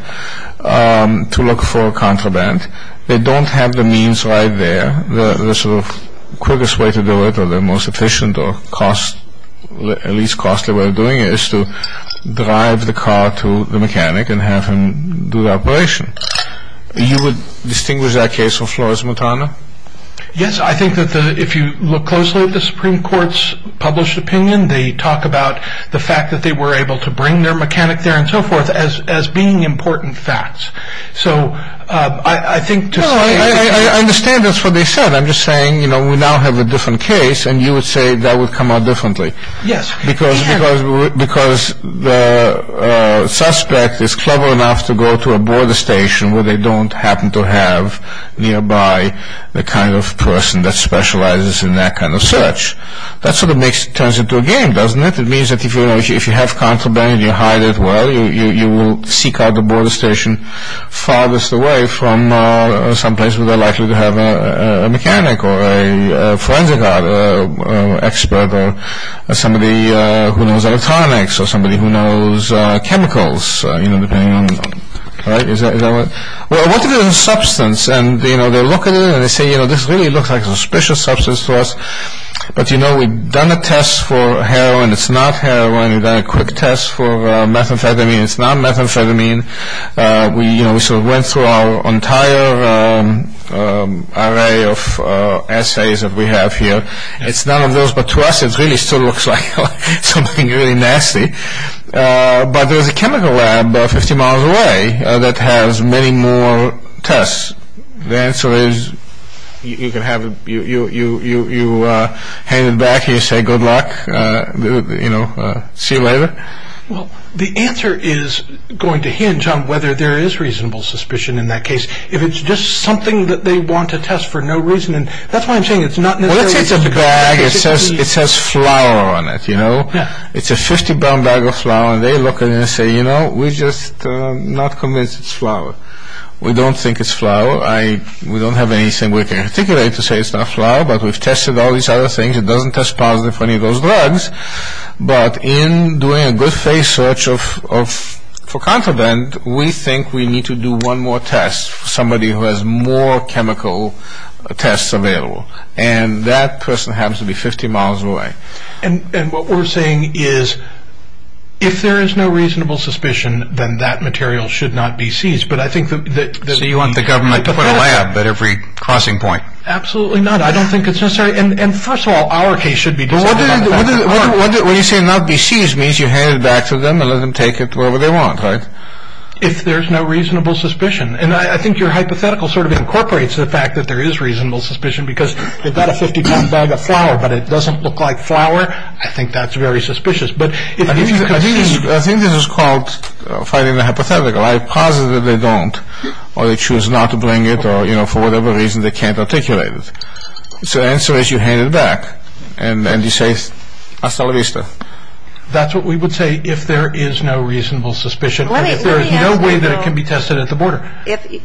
to look for a contraband. They don't have the means right there. The sort of quickest way to do it or the most efficient or at least costlier way of doing it is to drive the car to the mechanic and have him do the operation. You would distinguish that case of Flores-Montana? Yes. I think that if you look closely at the Supreme Court's published opinion, they talk about the fact that they were able to bring their mechanic there and so forth as being important facts. I understand that's what they said. I'm just saying, you know, we now have a different case and you would say that would come out differently. Yes. Because the suspect is clever enough to go to a border station where they don't happen to have nearby the kind of person that specializes in that kind of search. That sort of turns into a game, doesn't it? It means that if you have contraband and you hide it well, you will seek out the border station farthest away from some place where they're likely to have a mechanic or a forensic expert or somebody who knows electronics or somebody who knows chemicals. Well, what about the substance? They look at it and they say, you know, this really looks like a suspicious substance to us. But, you know, we've done a test for heroin. It's not heroin. We've done a quick test for methamphetamine. It's not methamphetamine. We sort of went through our entire array of assays that we have here. It's none of those, but to us it really still looks like something really nasty. But there's a chemical lab 50 miles away that has many more tests. The answer is you hang it back and you say, good luck, you know, see you later. Well, the answer is going to hinge on whether there is reasonable suspicion in that case. If it's just something that they want to test for no reason, that's why I'm saying it's not necessary. It's a bag. It says flour on it, you know. It's a 50-pound bag of flour. They look at it and say, you know, we're just not convinced it's flour. We don't think it's flour. We don't have anything we can articulate to say it's not flour, but we've tested all these other things. It doesn't test positive for any of those drugs. But in doing a good face search for confidant, we think we need to do one more test for somebody who has more chemical tests available. And that person happens to be 50 miles away. And what we're saying is if there is no reasonable suspicion, then that material should not be seized. So you want the government to put a lab at every crossing point? Absolutely not. I don't think it's necessary. And, first of all, our case should be. What do you say not be seized means you hand it back to them and let them take it wherever they want, right? If there's no reasonable suspicion. And I think your hypothetical sort of incorporates the fact that there is reasonable suspicion because they've got a 50-pound bag of flour, but it doesn't look like flour, I think that's very suspicious. I think this is called fighting the hypothetical. I posit that they don't or they choose not to bring it or, you know, for whatever reason, they can't articulate it. So the answer is you hand it back and you say hasta la vista. That's what we would say if there is no reasonable suspicion and if there is no way that it can be tested at the border. If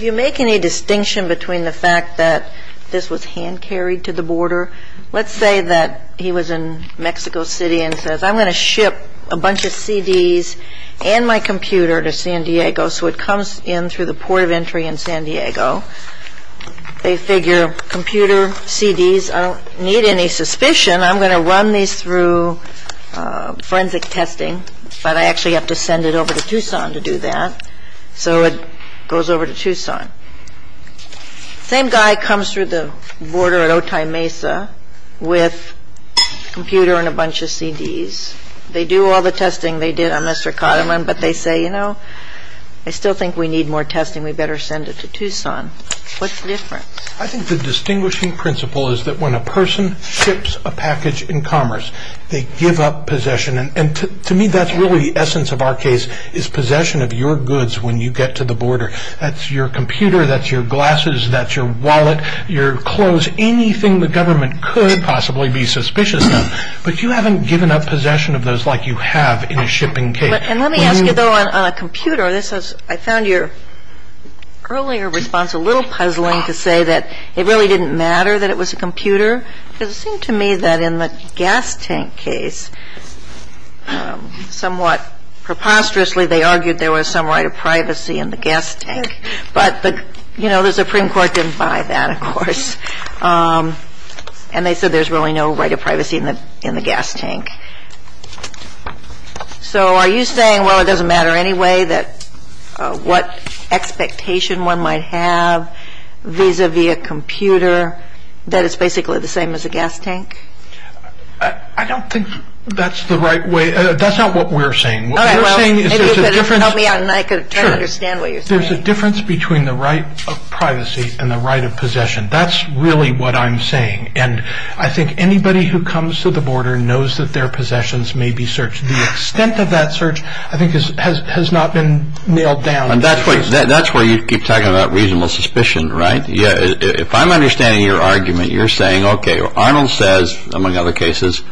you make any distinction between the fact that this was hand-carried to the border, let's say that he was in Mexico City and says I'm going to ship a bunch of CDs and my computer to San Diego. So it comes in through the port of entry in San Diego. They figure computer, CDs, I don't need any suspicion. I'm going to run these through forensic testing, but I actually have to send it over to Tucson to do that. So it goes over to Tucson. Same guy comes through the border at Otay Mesa with a computer and a bunch of CDs. They do all the testing they did on Mr. Coteman, but they say, you know, I still think we need more testing. We better send it to Tucson. What's the difference? I think the distinguishing principle is that when a person ships a package in commerce, they give up possession. And to me, that's really the essence of our case is possession of your goods when you get to the border. That's your computer, that's your glasses, that's your wallet, your clothes, anything the government could possibly be suspicious of. But you haven't given up possession of those like you have in a shipping case. And let me ask you, though, on a computer, I found your earlier response a little puzzling to say that it really didn't matter that it was a computer. Because it seemed to me that in the gas tank case, somewhat preposterously, they argued there was some right of privacy in the gas tank. But, you know, the Supreme Court didn't buy that, of course. And they said there's really no right of privacy in the gas tank. So are you saying, well, it doesn't matter anyway what expectation one might have vis-a-vis a computer, that it's basically the same as a gas tank? I don't think that's the right way. That's not what we're saying. What we're saying is there's a difference between the right of privacy and the right of possession. That's really what I'm saying. And I think anybody who comes to the border knows that their possessions may be searched. The extent of that search, I think, has not been nailed down. And that's where you keep talking about reasonable suspicion, right? Yeah. If I'm understanding your argument, you're saying, OK, Arnold says, among other cases,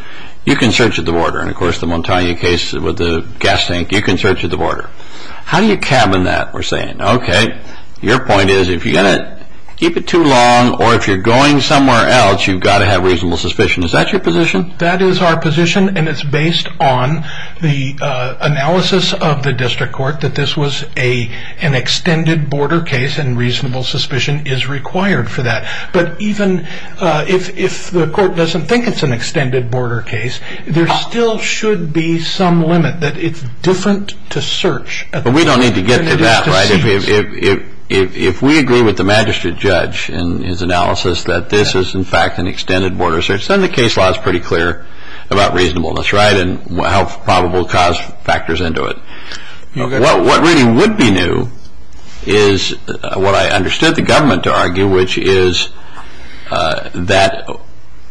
you can search at the border. And, of course, the Montagna case with the gas tank, you can search at the border. How do you cabin that? Your point is if you're going to keep it too long or if you're going somewhere else, you've got to have reasonable suspicion. Is that your position? That is our position. And it's based on the analysis of the district court that this was an extended border case and reasonable suspicion is required for that. But even if the court doesn't think it's an extended border case, there still should be some limit that it's different to search. But we don't need to get to that. If we agree with the magistrate judge in his analysis that this is, in fact, an extended border search, then the case law is pretty clear about reasonableness, right, and how probable cause factors into it. What really would be new is what I understood the government to argue, which is that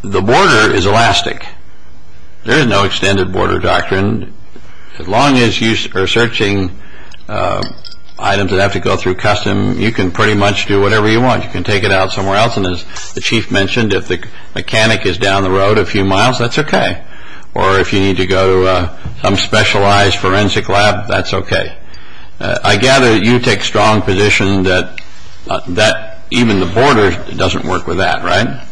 the border is elastic. There is no extended border doctrine. As long as you are searching items that have to go through custom, you can pretty much do whatever you want. You can take it out somewhere else. And as the chief mentioned, if the mechanic is down the road a few miles, that's okay. Or if you need to go to some specialized forensic lab, that's okay. I gather you take strong position that even the border doesn't work with that, right?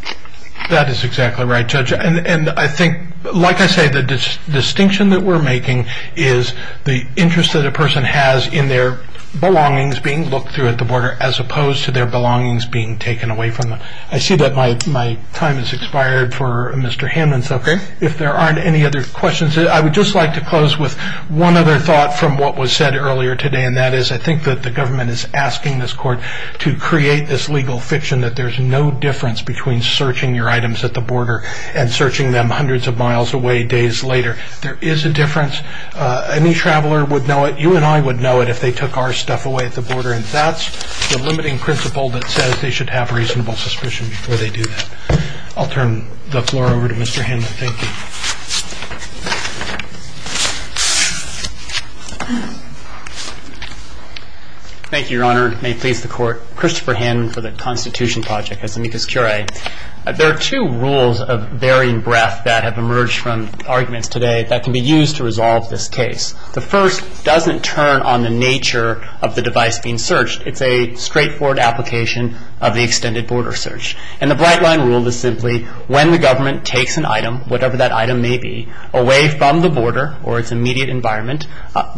That is exactly right, Judge. And I think, like I said, the distinction that we're making is the interest that a person has in their belongings being looked through at the border as opposed to their belongings being taken away from them. I see that my time has expired for Mr. Hammond. Okay. If there aren't any other questions, I would just like to close with one other thought from what was said earlier today, and that is I think that the government is asking this court to create this legal fiction that there's no difference between searching your items at the border and searching them hundreds of miles away days later. There is a difference. Any traveler would know it. You and I would know it if they took our stuff away at the border. And that's the limiting principle that says they should have reasonable suspicion before they do that. I'll turn the floor over to Mr. Hammond. Thank you. Thank you, Your Honor. Christopher Hammond for the Constitution Project. There are two rules of varying breadth that have emerged from arguments today that can be used to resolve this case. The first doesn't turn on the nature of the device being searched. It's a straightforward application of the extended border search. And the bright line rule is simply when the government takes an item, whatever that item may be, away from the border or its immediate environment,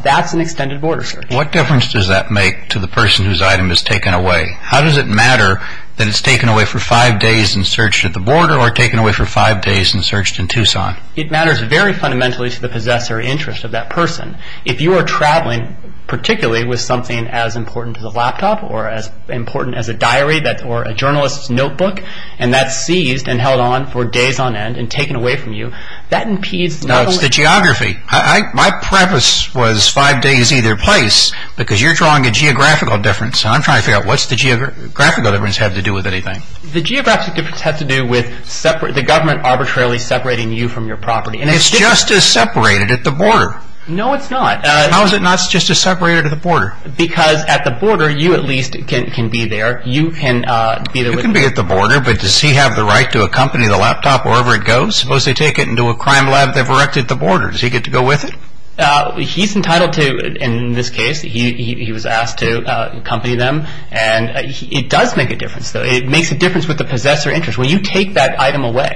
that's an extended border search. What difference does that make to the person whose item is taken away? How does it matter that it's taken away for five days and searched at the border or taken away for five days and searched in Tucson? It matters very fundamentally to the possessor interest of that person. If you are traveling, particularly with something as important as a laptop or as important as a diary or a journalist's notebook, and that's seized and held on for days on end and taken away from you, that impedes... That's the geography. My premise was five days either place because you're drawing a geographical difference and I'm trying to figure out what's the geographical difference have to do with anything. The geographical difference has to do with the government arbitrarily separating you from your property. It's just as separated at the border. No, it's not. How is it not just as separated at the border? Because at the border, you at least can be there. You can be at the border, but does he have the right to accompany the laptop wherever it goes? Suppose they take it into a crime lab they've erected at the border. Does he get to go with it? He's entitled to, in this case, he was asked to accompany them, and it does make a difference. It makes a difference with the possessor interest. When you take that item away,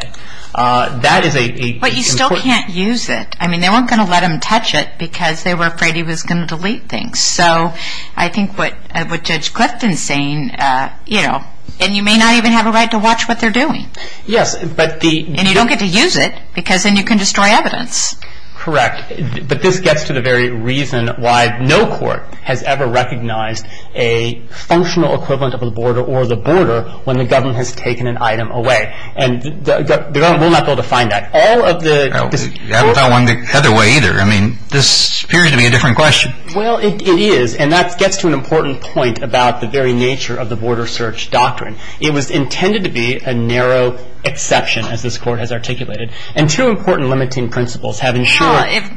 that is a... But you still can't use it. I mean, they weren't going to let him touch it because they were afraid he was going to delete things. So I think what Judge Clifton's saying, you know, and you may not even have a right to watch what they're doing. Yes, but the... And you don't get to use it because then you can destroy evidence. Correct. But this gets to the very reason why no court has ever recognized a functional equivalent of a border or the border when the government has taken an item away. And the government will not be able to find that. All of the... I don't know how long the other way either. I mean, this appears to be a different question. Well, it is, and that gets to an important point about the very nature of the border search doctrine. It was intended to be a narrow exception, as this court has articulated. And two important limiting principles have ensured...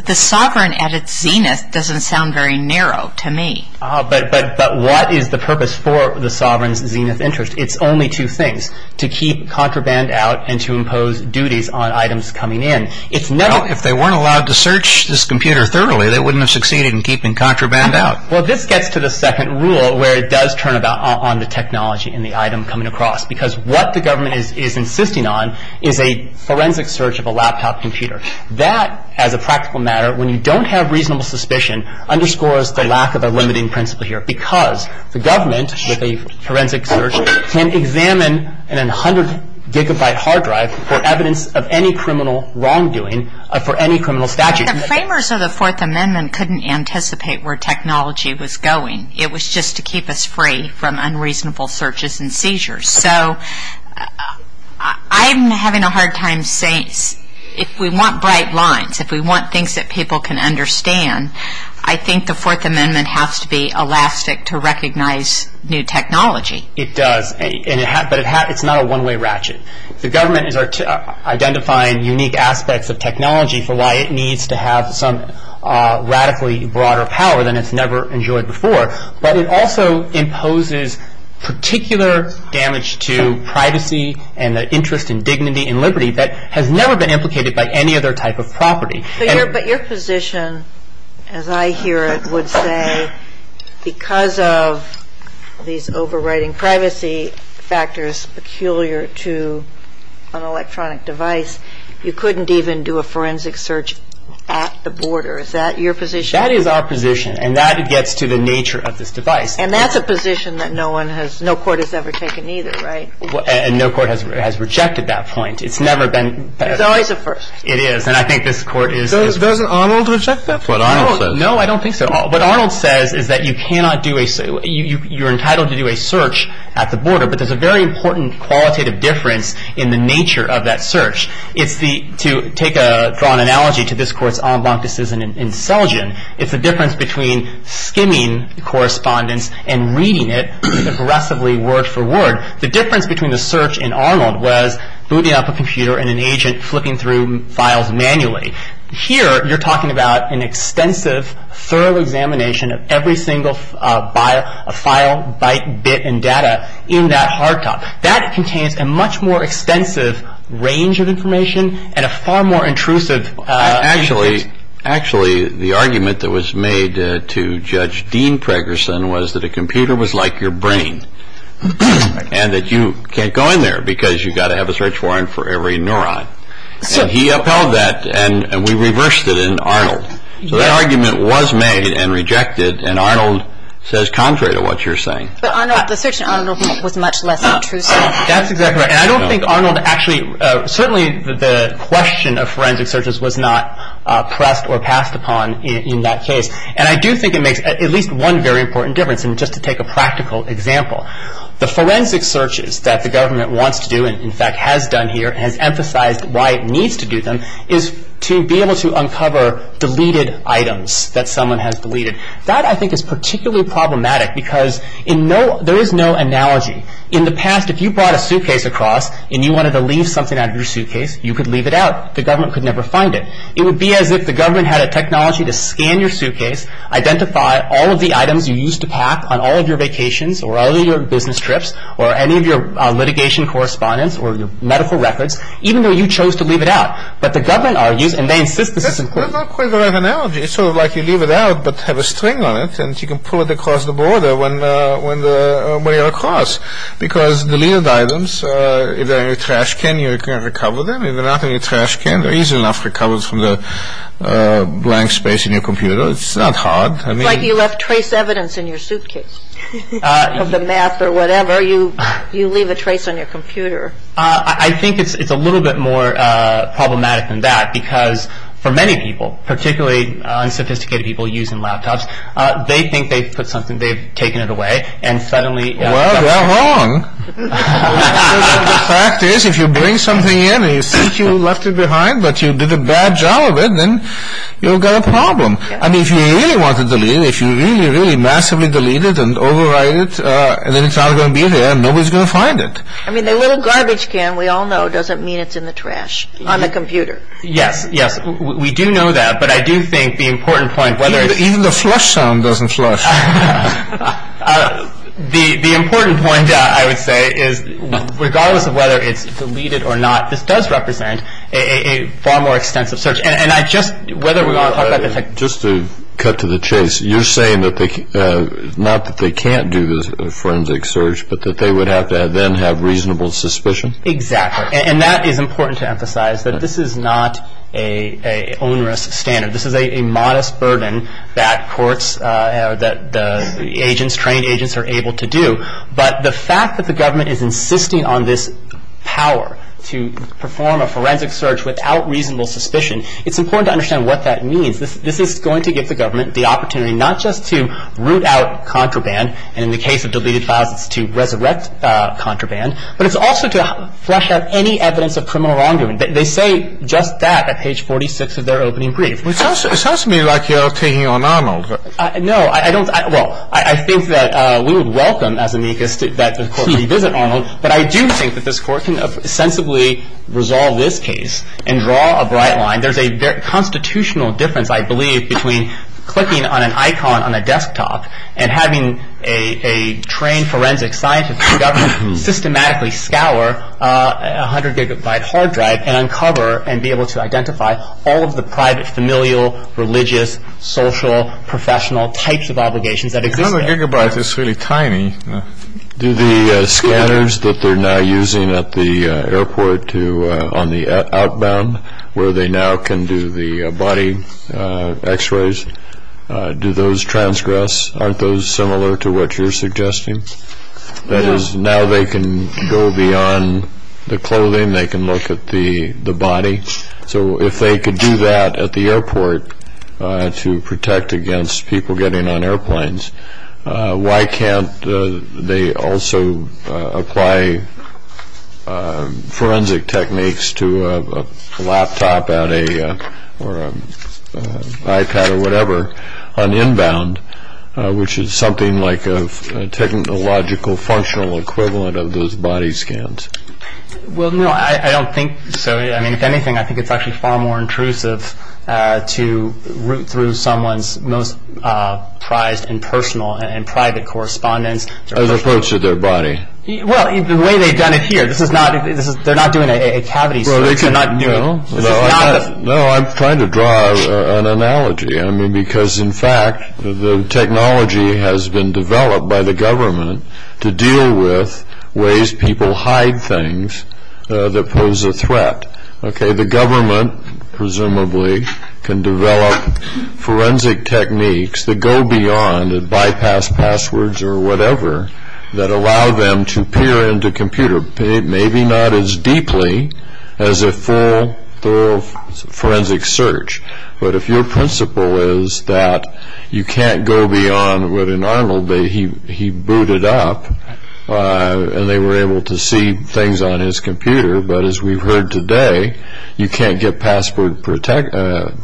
The sovereign at its zenith doesn't sound very narrow to me. But what is the purpose for the sovereign's zenith interest? It's only two things, to keep contraband out and to impose duties on items coming in. It's never... Well, if they weren't allowed to search this computer thoroughly, they wouldn't have succeeded in keeping contraband out. Well, this gets to the second rule where it does turn on the technology in the item coming across. Because what the government is insisting on is a forensic search of a laptop computer. That, as a practical matter, when you don't have reasonable suspicion, underscores the lack of a limiting principle here. Because the government, with a forensic search, can examine an 100-gigabyte hard drive for evidence of any criminal wrongdoing or for any criminal statute. The framers of the Fourth Amendment couldn't anticipate where technology was going. It was just to keep us free from unreasonable searches and seizures. So, I'm having a hard time saying... If we want bright lines, if we want things that people can understand, I think the Fourth Amendment has to be elastic to recognize new technology. It does. But it's not a one-way ratchet. The government is identifying unique aspects of technology for why it needs to have some radically broader power than it's never enjoyed before. But it also imposes particular damage to privacy and the interest in dignity and liberty that has never been implicated by any other type of property. But your position, as I hear it, would say, because of these overriding privacy factors peculiar to an electronic device, you couldn't even do a forensic search at the border. Is that your position? That is our position. And that gets to the nature of this device. And that's a position that no court has ever taken either, right? And no court has rejected that point. It's never been... It's always a first. It is. And I think this court is... Doesn't Arnold reject that? That's what Arnold says. No, I don't think so. What Arnold says is that you cannot do a... You're entitled to do a search at the border. But there's a very important qualitative difference in the nature of that search. To draw an analogy to this court's en banc decision in Selgin, it's the difference between skimming correspondence and reading it aggressively word for word. The difference between the search in Arnold was booting up a computer and an agent flipping through files manually. Here, you're talking about an extensive, thorough examination of every single file, byte, bit, and data in that hard top. That contains a much more extensive range of information and a far more intrusive... Actually, the argument that was made to Judge Dean Pregerson was that a computer was like your brain, and that you can't go in there because you've got to have a search warrant for every neuron. And he upheld that, and we reversed it in Arnold. So that argument was made and rejected, and Arnold says contrary to what you're saying. But Arnold, the search in Arnold was much less intrusive. That's exactly right. And I don't think Arnold actually... Certainly, the question of forensic searches was not pressed or passed upon in that case. And I do think it makes at least one very important difference, and just to take a practical example, the forensic searches that the government wants to do and, in fact, has done here and emphasized why it needs to do them is to be able to uncover deleted items that someone has deleted. That, I think, is particularly problematic because there is no analogy. In the past, if you brought a suitcase across and you wanted to leave something out of your suitcase, you could leave it out. The government could never find it. It would be as if the government had a technology to scan your suitcase, identify all of the items you used to pack on all of your vacations or all of your business trips or any of your litigation correspondence or your medical records, even though you chose to leave it out. But the government argues and they insist... There's not quite the right analogy. It's sort of like you leave it out but have a string on it and you can pull it across the border when you're across because the deleted items, if they're in your trash can, you can recover them. If they're not in your trash can, they're easily enough recovered from the blank space in your computer. It's not hard. It's like you left trace evidence in your suitcase. From the map or whatever. You leave a trace on your computer. I think it's a little bit more problematic than that because for many people, particularly unsophisticated people using laptops, they think they've put something, they've taken it away and suddenly... Well, they're wrong. The fact is, if you bring something in and you think you left it behind but you did a bad job of it, then you've got a problem. I mean, if you really want to delete, if you really, really massively delete it and override it, then it's not going to be there and nobody's going to find it. I mean, the little garbage can, we all know, doesn't mean it's in the trash on the computer. Yes, yes. We do know that, but I do think the important point, whether it's... Even the flush sound doesn't flush. The important point, I would say, is regardless of whether it's deleted or not, this does represent a far more extensive search. And I just... Just to cut to the chase, you're saying not that they can't do the forensic search but that they would have to then have reasonable suspicion? Exactly. And that is important to emphasize, that this is not an onerous standard. This is a modest burden that courts, that agents, trained agents are able to do. But the fact that the government is insisting on this power to perform a forensic search without reasonable suspicion, it's important to understand what that means. This is going to give the government the opportunity not just to root out contraband, and in the case of deleted files, to resurrect contraband, but it's also to flush out any evidence of criminal wrongdoing. They say just that at page 46 of their opening brief. It sounds to me like you're taking on Arnold. No, I don't. Well, I think that we would welcome, as amicus, that this court revisit Arnold, but I do think that this court can sensibly resolve this case and draw a bright line. There's a constitutional difference, I believe, between clicking on an icon on a desktop and having a trained forensic scientist systematically scour a 100-gigabyte hard drive and uncover and be able to identify all of the private familial, religious, social, professional types of obligations that exist. A 100-gigabyte is really tiny. Do the scanners that they're now using at the airport on the outbound, where they now can do the body X-rays, do those transgress? Aren't those similar to what you're suggesting? That is, now they can go beyond the clothing. They can look at the body. So if they could do that at the airport to protect against people getting on airplanes, why can't they also apply forensic techniques to a laptop or an iPad or whatever on the inbound, which is something like a technological, functional equivalent of those body scans? Well, no, I don't think so. I mean, if anything, I think it's actually far more intrusive to root through someone's most prized and personal and private correspondence. As opposed to their body. Well, the way they've done it here. They're not doing it at Cavity. They're not doing it. No, I'm trying to draw an analogy, I mean, because, in fact, the technology has been developed by the government to deal with ways people hide things that pose a threat. Okay, the government, presumably, can develop forensic techniques that go beyond and bypass passwords or whatever that allow them to peer into computers. Maybe not as deeply as a full forensic search. But if your principle is that you can't go beyond what, in Arnold, he booted up, and they were able to see things on his computer, but, as we've heard today, you can't get past the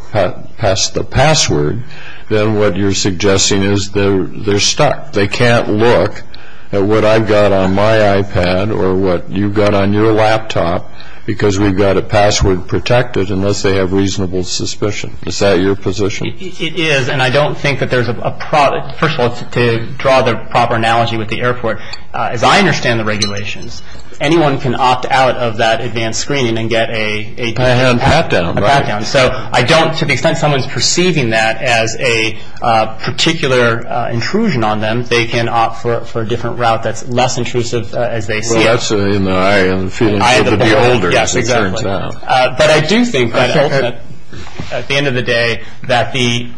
password, then what you're suggesting is they're stuck. They can't look at what I've got on my iPad or what you've got on your laptop, because we've got a password protected unless they have reasonable suspicion. Is that your position? It is, and I don't think that there's a – first of all, to draw the proper analogy with the airport, as I understand the regulations, anyone can opt out of that advanced screening and get a pat-down. So I don't – to the extent someone's perceiving that as a particular intrusion on them, they can opt for a different route that's less intrusive. Well, that's in the eye of the beholder, it turns out. But I do think that, at the end of the day, that the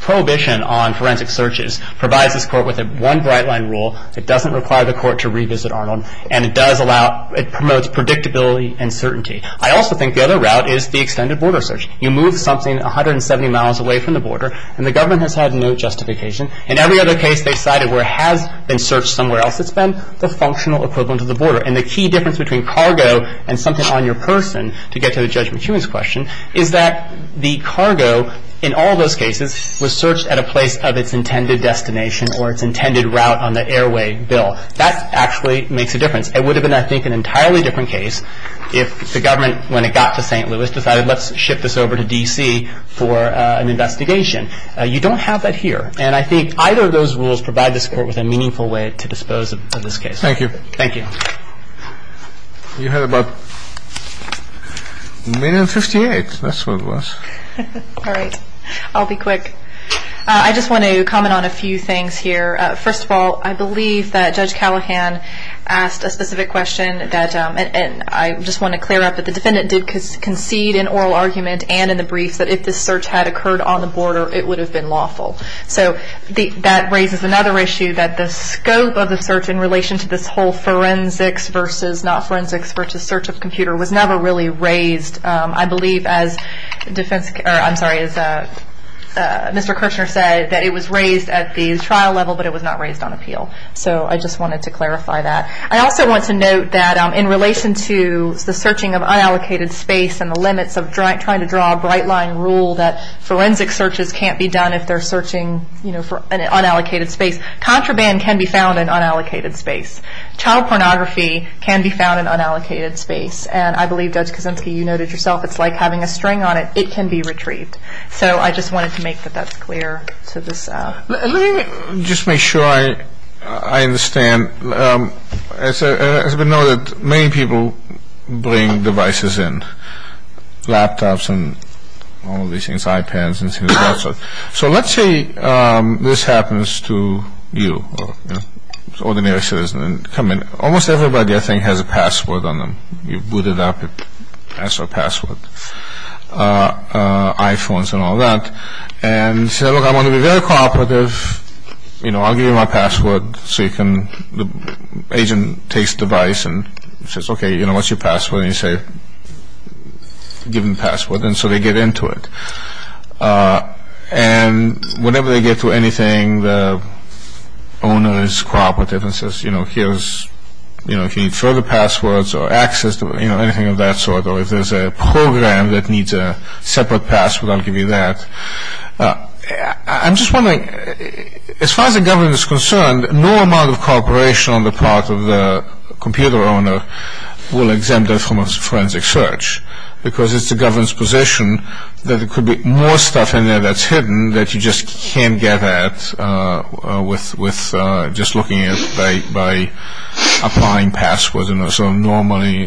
prohibition on forensic searches provides this court with one bright-line rule that doesn't require the court to revisit Arnold, and it does allow – it promotes predictability and certainty. I also think the other route is the extended border search. You move something 170 miles away from the border, and the government has had no justification. In every other case they've cited where it has been searched somewhere else, it's been the functional equivalent of the border. And the key difference between cargo and something on your person, to get to the Judge McEwen's question, is that the cargo, in all those cases, was searched at a place of its intended destination or its intended route on the airway bill. That actually makes a difference. It would have been, I think, an entirely different case if the government, when it got to St. Louis, decided let's ship this over to D.C. for an investigation. You don't have that here. And I think either of those rules provide this court with a meaningful way to dispose of this case. Thank you. Thank you. You had about a minute and 58. That's what it was. All right. I'll be quick. I just want to comment on a few things here. First of all, I believe that Judge Callahan asked a specific question. I just want to clear up that the defendant did concede in oral argument and in the brief that if this search had occurred on the border, it would have been lawful. So that raises another issue that the scope of the search in relation to this whole forensics versus not forensics versus search of computer was never really raised. I believe, as Mr. Kirchner said, that it was raised at the trial level, but it was not raised on appeal. So I just wanted to clarify that. I also want to note that in relation to the searching of unallocated space and the limits of trying to draw a bright-line rule that forensic searches can't be done if they're searching unallocated space, contraband can be found in unallocated space. Child pornography can be found in unallocated space. And I believe, Judge Kosinski, you noted yourself, it's like having a string on it. It can be retrieved. So I just wanted to make that that's clear. Let me just make sure I understand. As we know, many people bring devices in, laptops and all these things, iPads and things like that. So let's say this happens to you. Ordinary citizen. Almost everybody, I think, has a password on them. You boot it up, it has a password. iPhones and all that. And you say, look, I want to be very cooperative. You know, I'll give you my password. So the agent takes the device and says, okay, what's your password? And you say, give me the password. And so they get into it. And whenever they get to anything, the owner is cooperative and says, you know, here's, you know, if you need further passwords or access to anything of that sort, or if there's a program that needs a separate password, I'll give you that. I'm just wondering, as far as the government is concerned, no amount of cooperation on the part of the computer owner will exempt them from a forensic search, because it's the government's position that there could be more stuff in there that's hidden that you just can't get at with just looking at it by applying passwords and sort of normally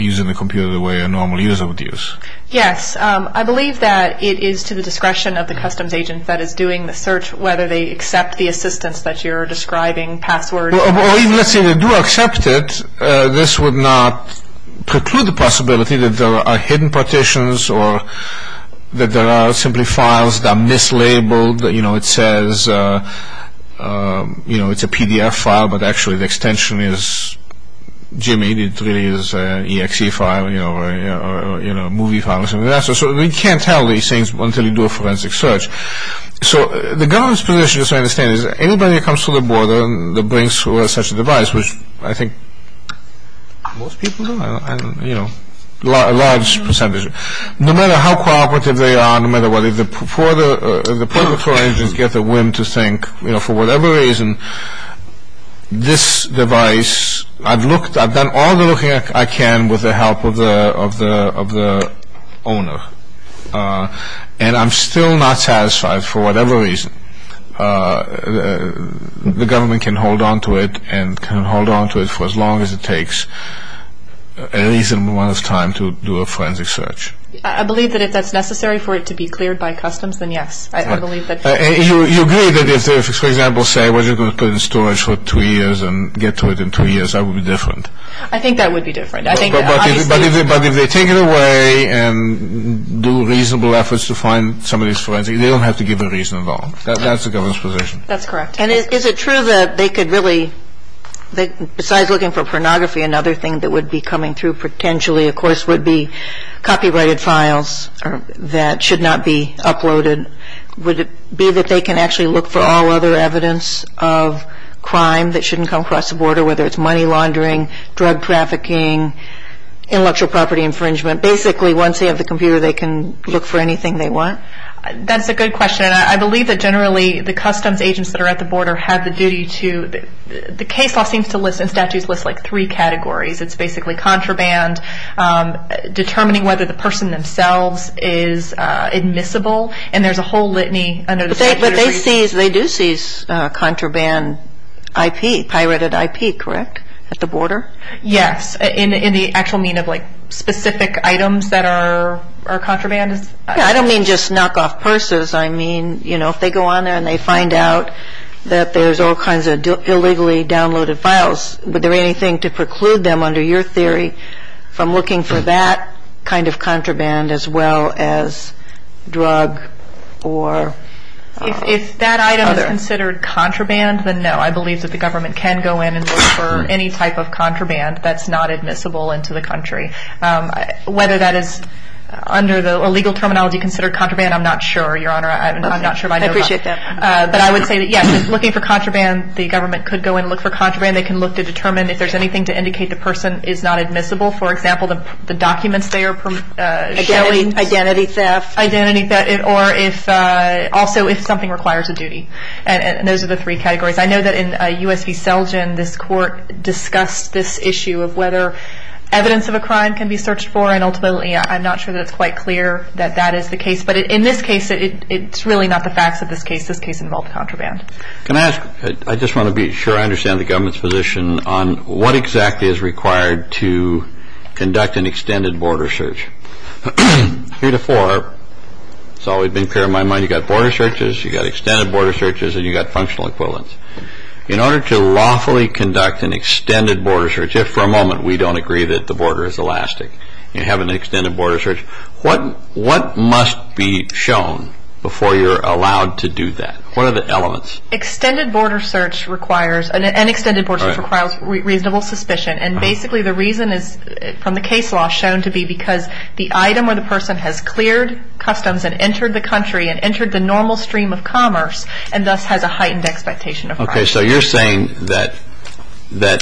using the computer the way a normal user would use. Yes. I believe that it is to the discretion of the customs agent that is doing the search, whether they accept the assistance that you're describing, passwords. Or even if they do accept it, this would not preclude the possibility that there are hidden partitions or that there are simply files that are mislabeled. You know, it says, you know, it's a PDF file, but actually the extension is GME. It really is an EXE file, you know, or a movie file. So you can't tell these things until you do a forensic search. So the government's position, as I understand it, is that anybody that comes to the border and brings such a device, which I think most people do, you know, a large percentage of them, no matter how cooperative they are, no matter what, the political engines get the whim to think, you know, for whatever reason, this device, I've looked, I've done all the looking I can with the help of the owner, and I'm still not satisfied for whatever reason. The government can hold on to it and can hold on to it for as long as it takes, at least as long as time to do a forensic search. I believe that if that's necessary for it to be cleared by customs, then yes. You agree that if, for example, say it was put in storage for two years and get to it in two years, that would be different? I think that would be different. But if they take it away and do reasonable efforts to find somebody who's forensic, they don't have to give a reason at all. That's the government's position. That's correct. And is it true that they could really, besides looking for pornography, another thing that would be coming through potentially, of course, would be copyrighted files that should not be uploaded? Would it be that they can actually look for all other evidence of crime that shouldn't come across the border, whether it's money laundering, drug trafficking, intellectual property infringement? Basically, once they have the computer, they can look for anything they want? That's a good question. I believe that generally the customs agents that are at the border have the duty to, the case law seems to list in statutes like three categories. It's basically contraband, determining whether the person themselves is admissible, and there's a whole litany. But they do seize contraband IP, pirated IP, correct, at the border? Yes, in the actual mean of like specific items that are contraband. I don't mean just knockoff purses. I mean if they go on there and they find out that there's all kinds of illegally downloaded files, would there be anything to preclude them under your theory from looking for that kind of contraband as well as drug or other? If that item is considered contraband, then no. I believe that the government can go in and look for any type of contraband that's not admissible into the country. Whether that is under the legal terminology considered contraband, I'm not sure. Your Honor, I'm not sure. I appreciate that. But I would say that, yes, looking for contraband, the government could go and look for contraband. They can look to determine if there's anything to indicate the person is not admissible. For example, the documents they are showing. Identity theft. Identity theft, or also if something requires a duty. And those are the three categories. I know that in U.S. v. Selgin, this court discussed this issue of whether evidence of a crime can be searched for, and ultimately I'm not sure that it's quite clear that that is the case. But in this case, it's really not the facts of this case. This case involves contraband. Can I ask? I just want to be sure I understand the government's position on what exactly is required to conduct an extended border search. Three to four, it's always been clear in my mind you've got border searches, you've got extended border searches, and you've got functional equivalents. In order to lawfully conduct an extended border search, if for a moment we don't agree that the border is elastic, you have an extended border search, what must be shown before you're allowed to do that? What are the elements? Extended border search requires reasonable suspicion, and basically the reason is from the case law shown to be because the item or the person has cleared customs and entered the country and entered the normal stream of commerce and thus has a heightened expectation of crime. Okay, so you're saying that the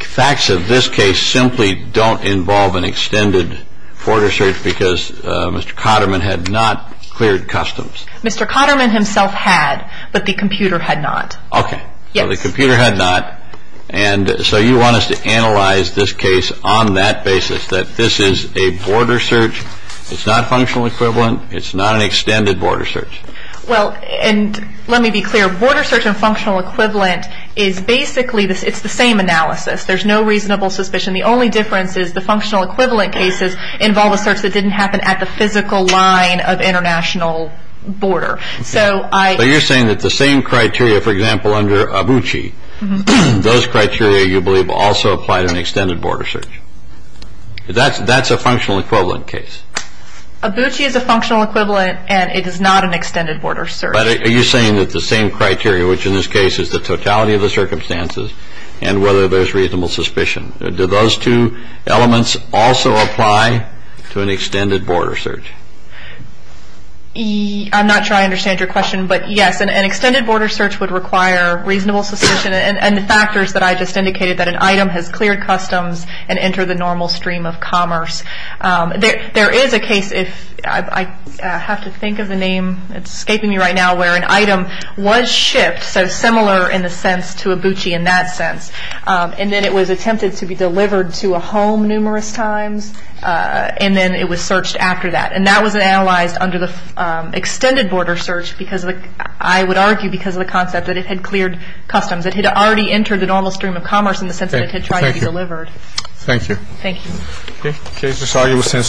facts of this case simply don't involve an extended border search because Mr. Cotterman had not cleared customs. Mr. Cotterman himself had, but the computer had not. Okay, so the computer had not, and so you want us to analyze this case on that basis, that this is a border search, it's not functional equivalent, it's not an extended border search. Well, and let me be clear. Border search and functional equivalent is basically the same analysis. There's no reasonable suspicion. The only difference is the functional equivalent cases involve a person that didn't happen at the physical line of international border. So you're saying that the same criteria, for example, under Abuchi, those criteria you believe also apply to an extended border search. That's a functional equivalent case. Abuchi is a functional equivalent and it is not an extended border search. But are you saying that the same criteria, which in this case is the totality of the circumstances, and whether there's reasonable suspicion, do those two elements also apply to an extended border search? I'm not sure I understand your question, but yes, an extended border search would require reasonable suspicion and the factors that I just indicated, that an item has cleared customs and entered the normal stream of commerce. There is a case, if I have to think of a name that's escaping me right now, where an item was shipped, so similar in a sense to Abuchi in that sense, and then it was attempted to be delivered to a home numerous times, and then it was searched after that. And that was analyzed under the extended border search, I would argue because of the concept that it had cleared customs. It had already entered the normal stream of commerce in the sense that it had tried to be delivered. Thank you. Thank you. Okay. This argument stands submitted. We're adjourned.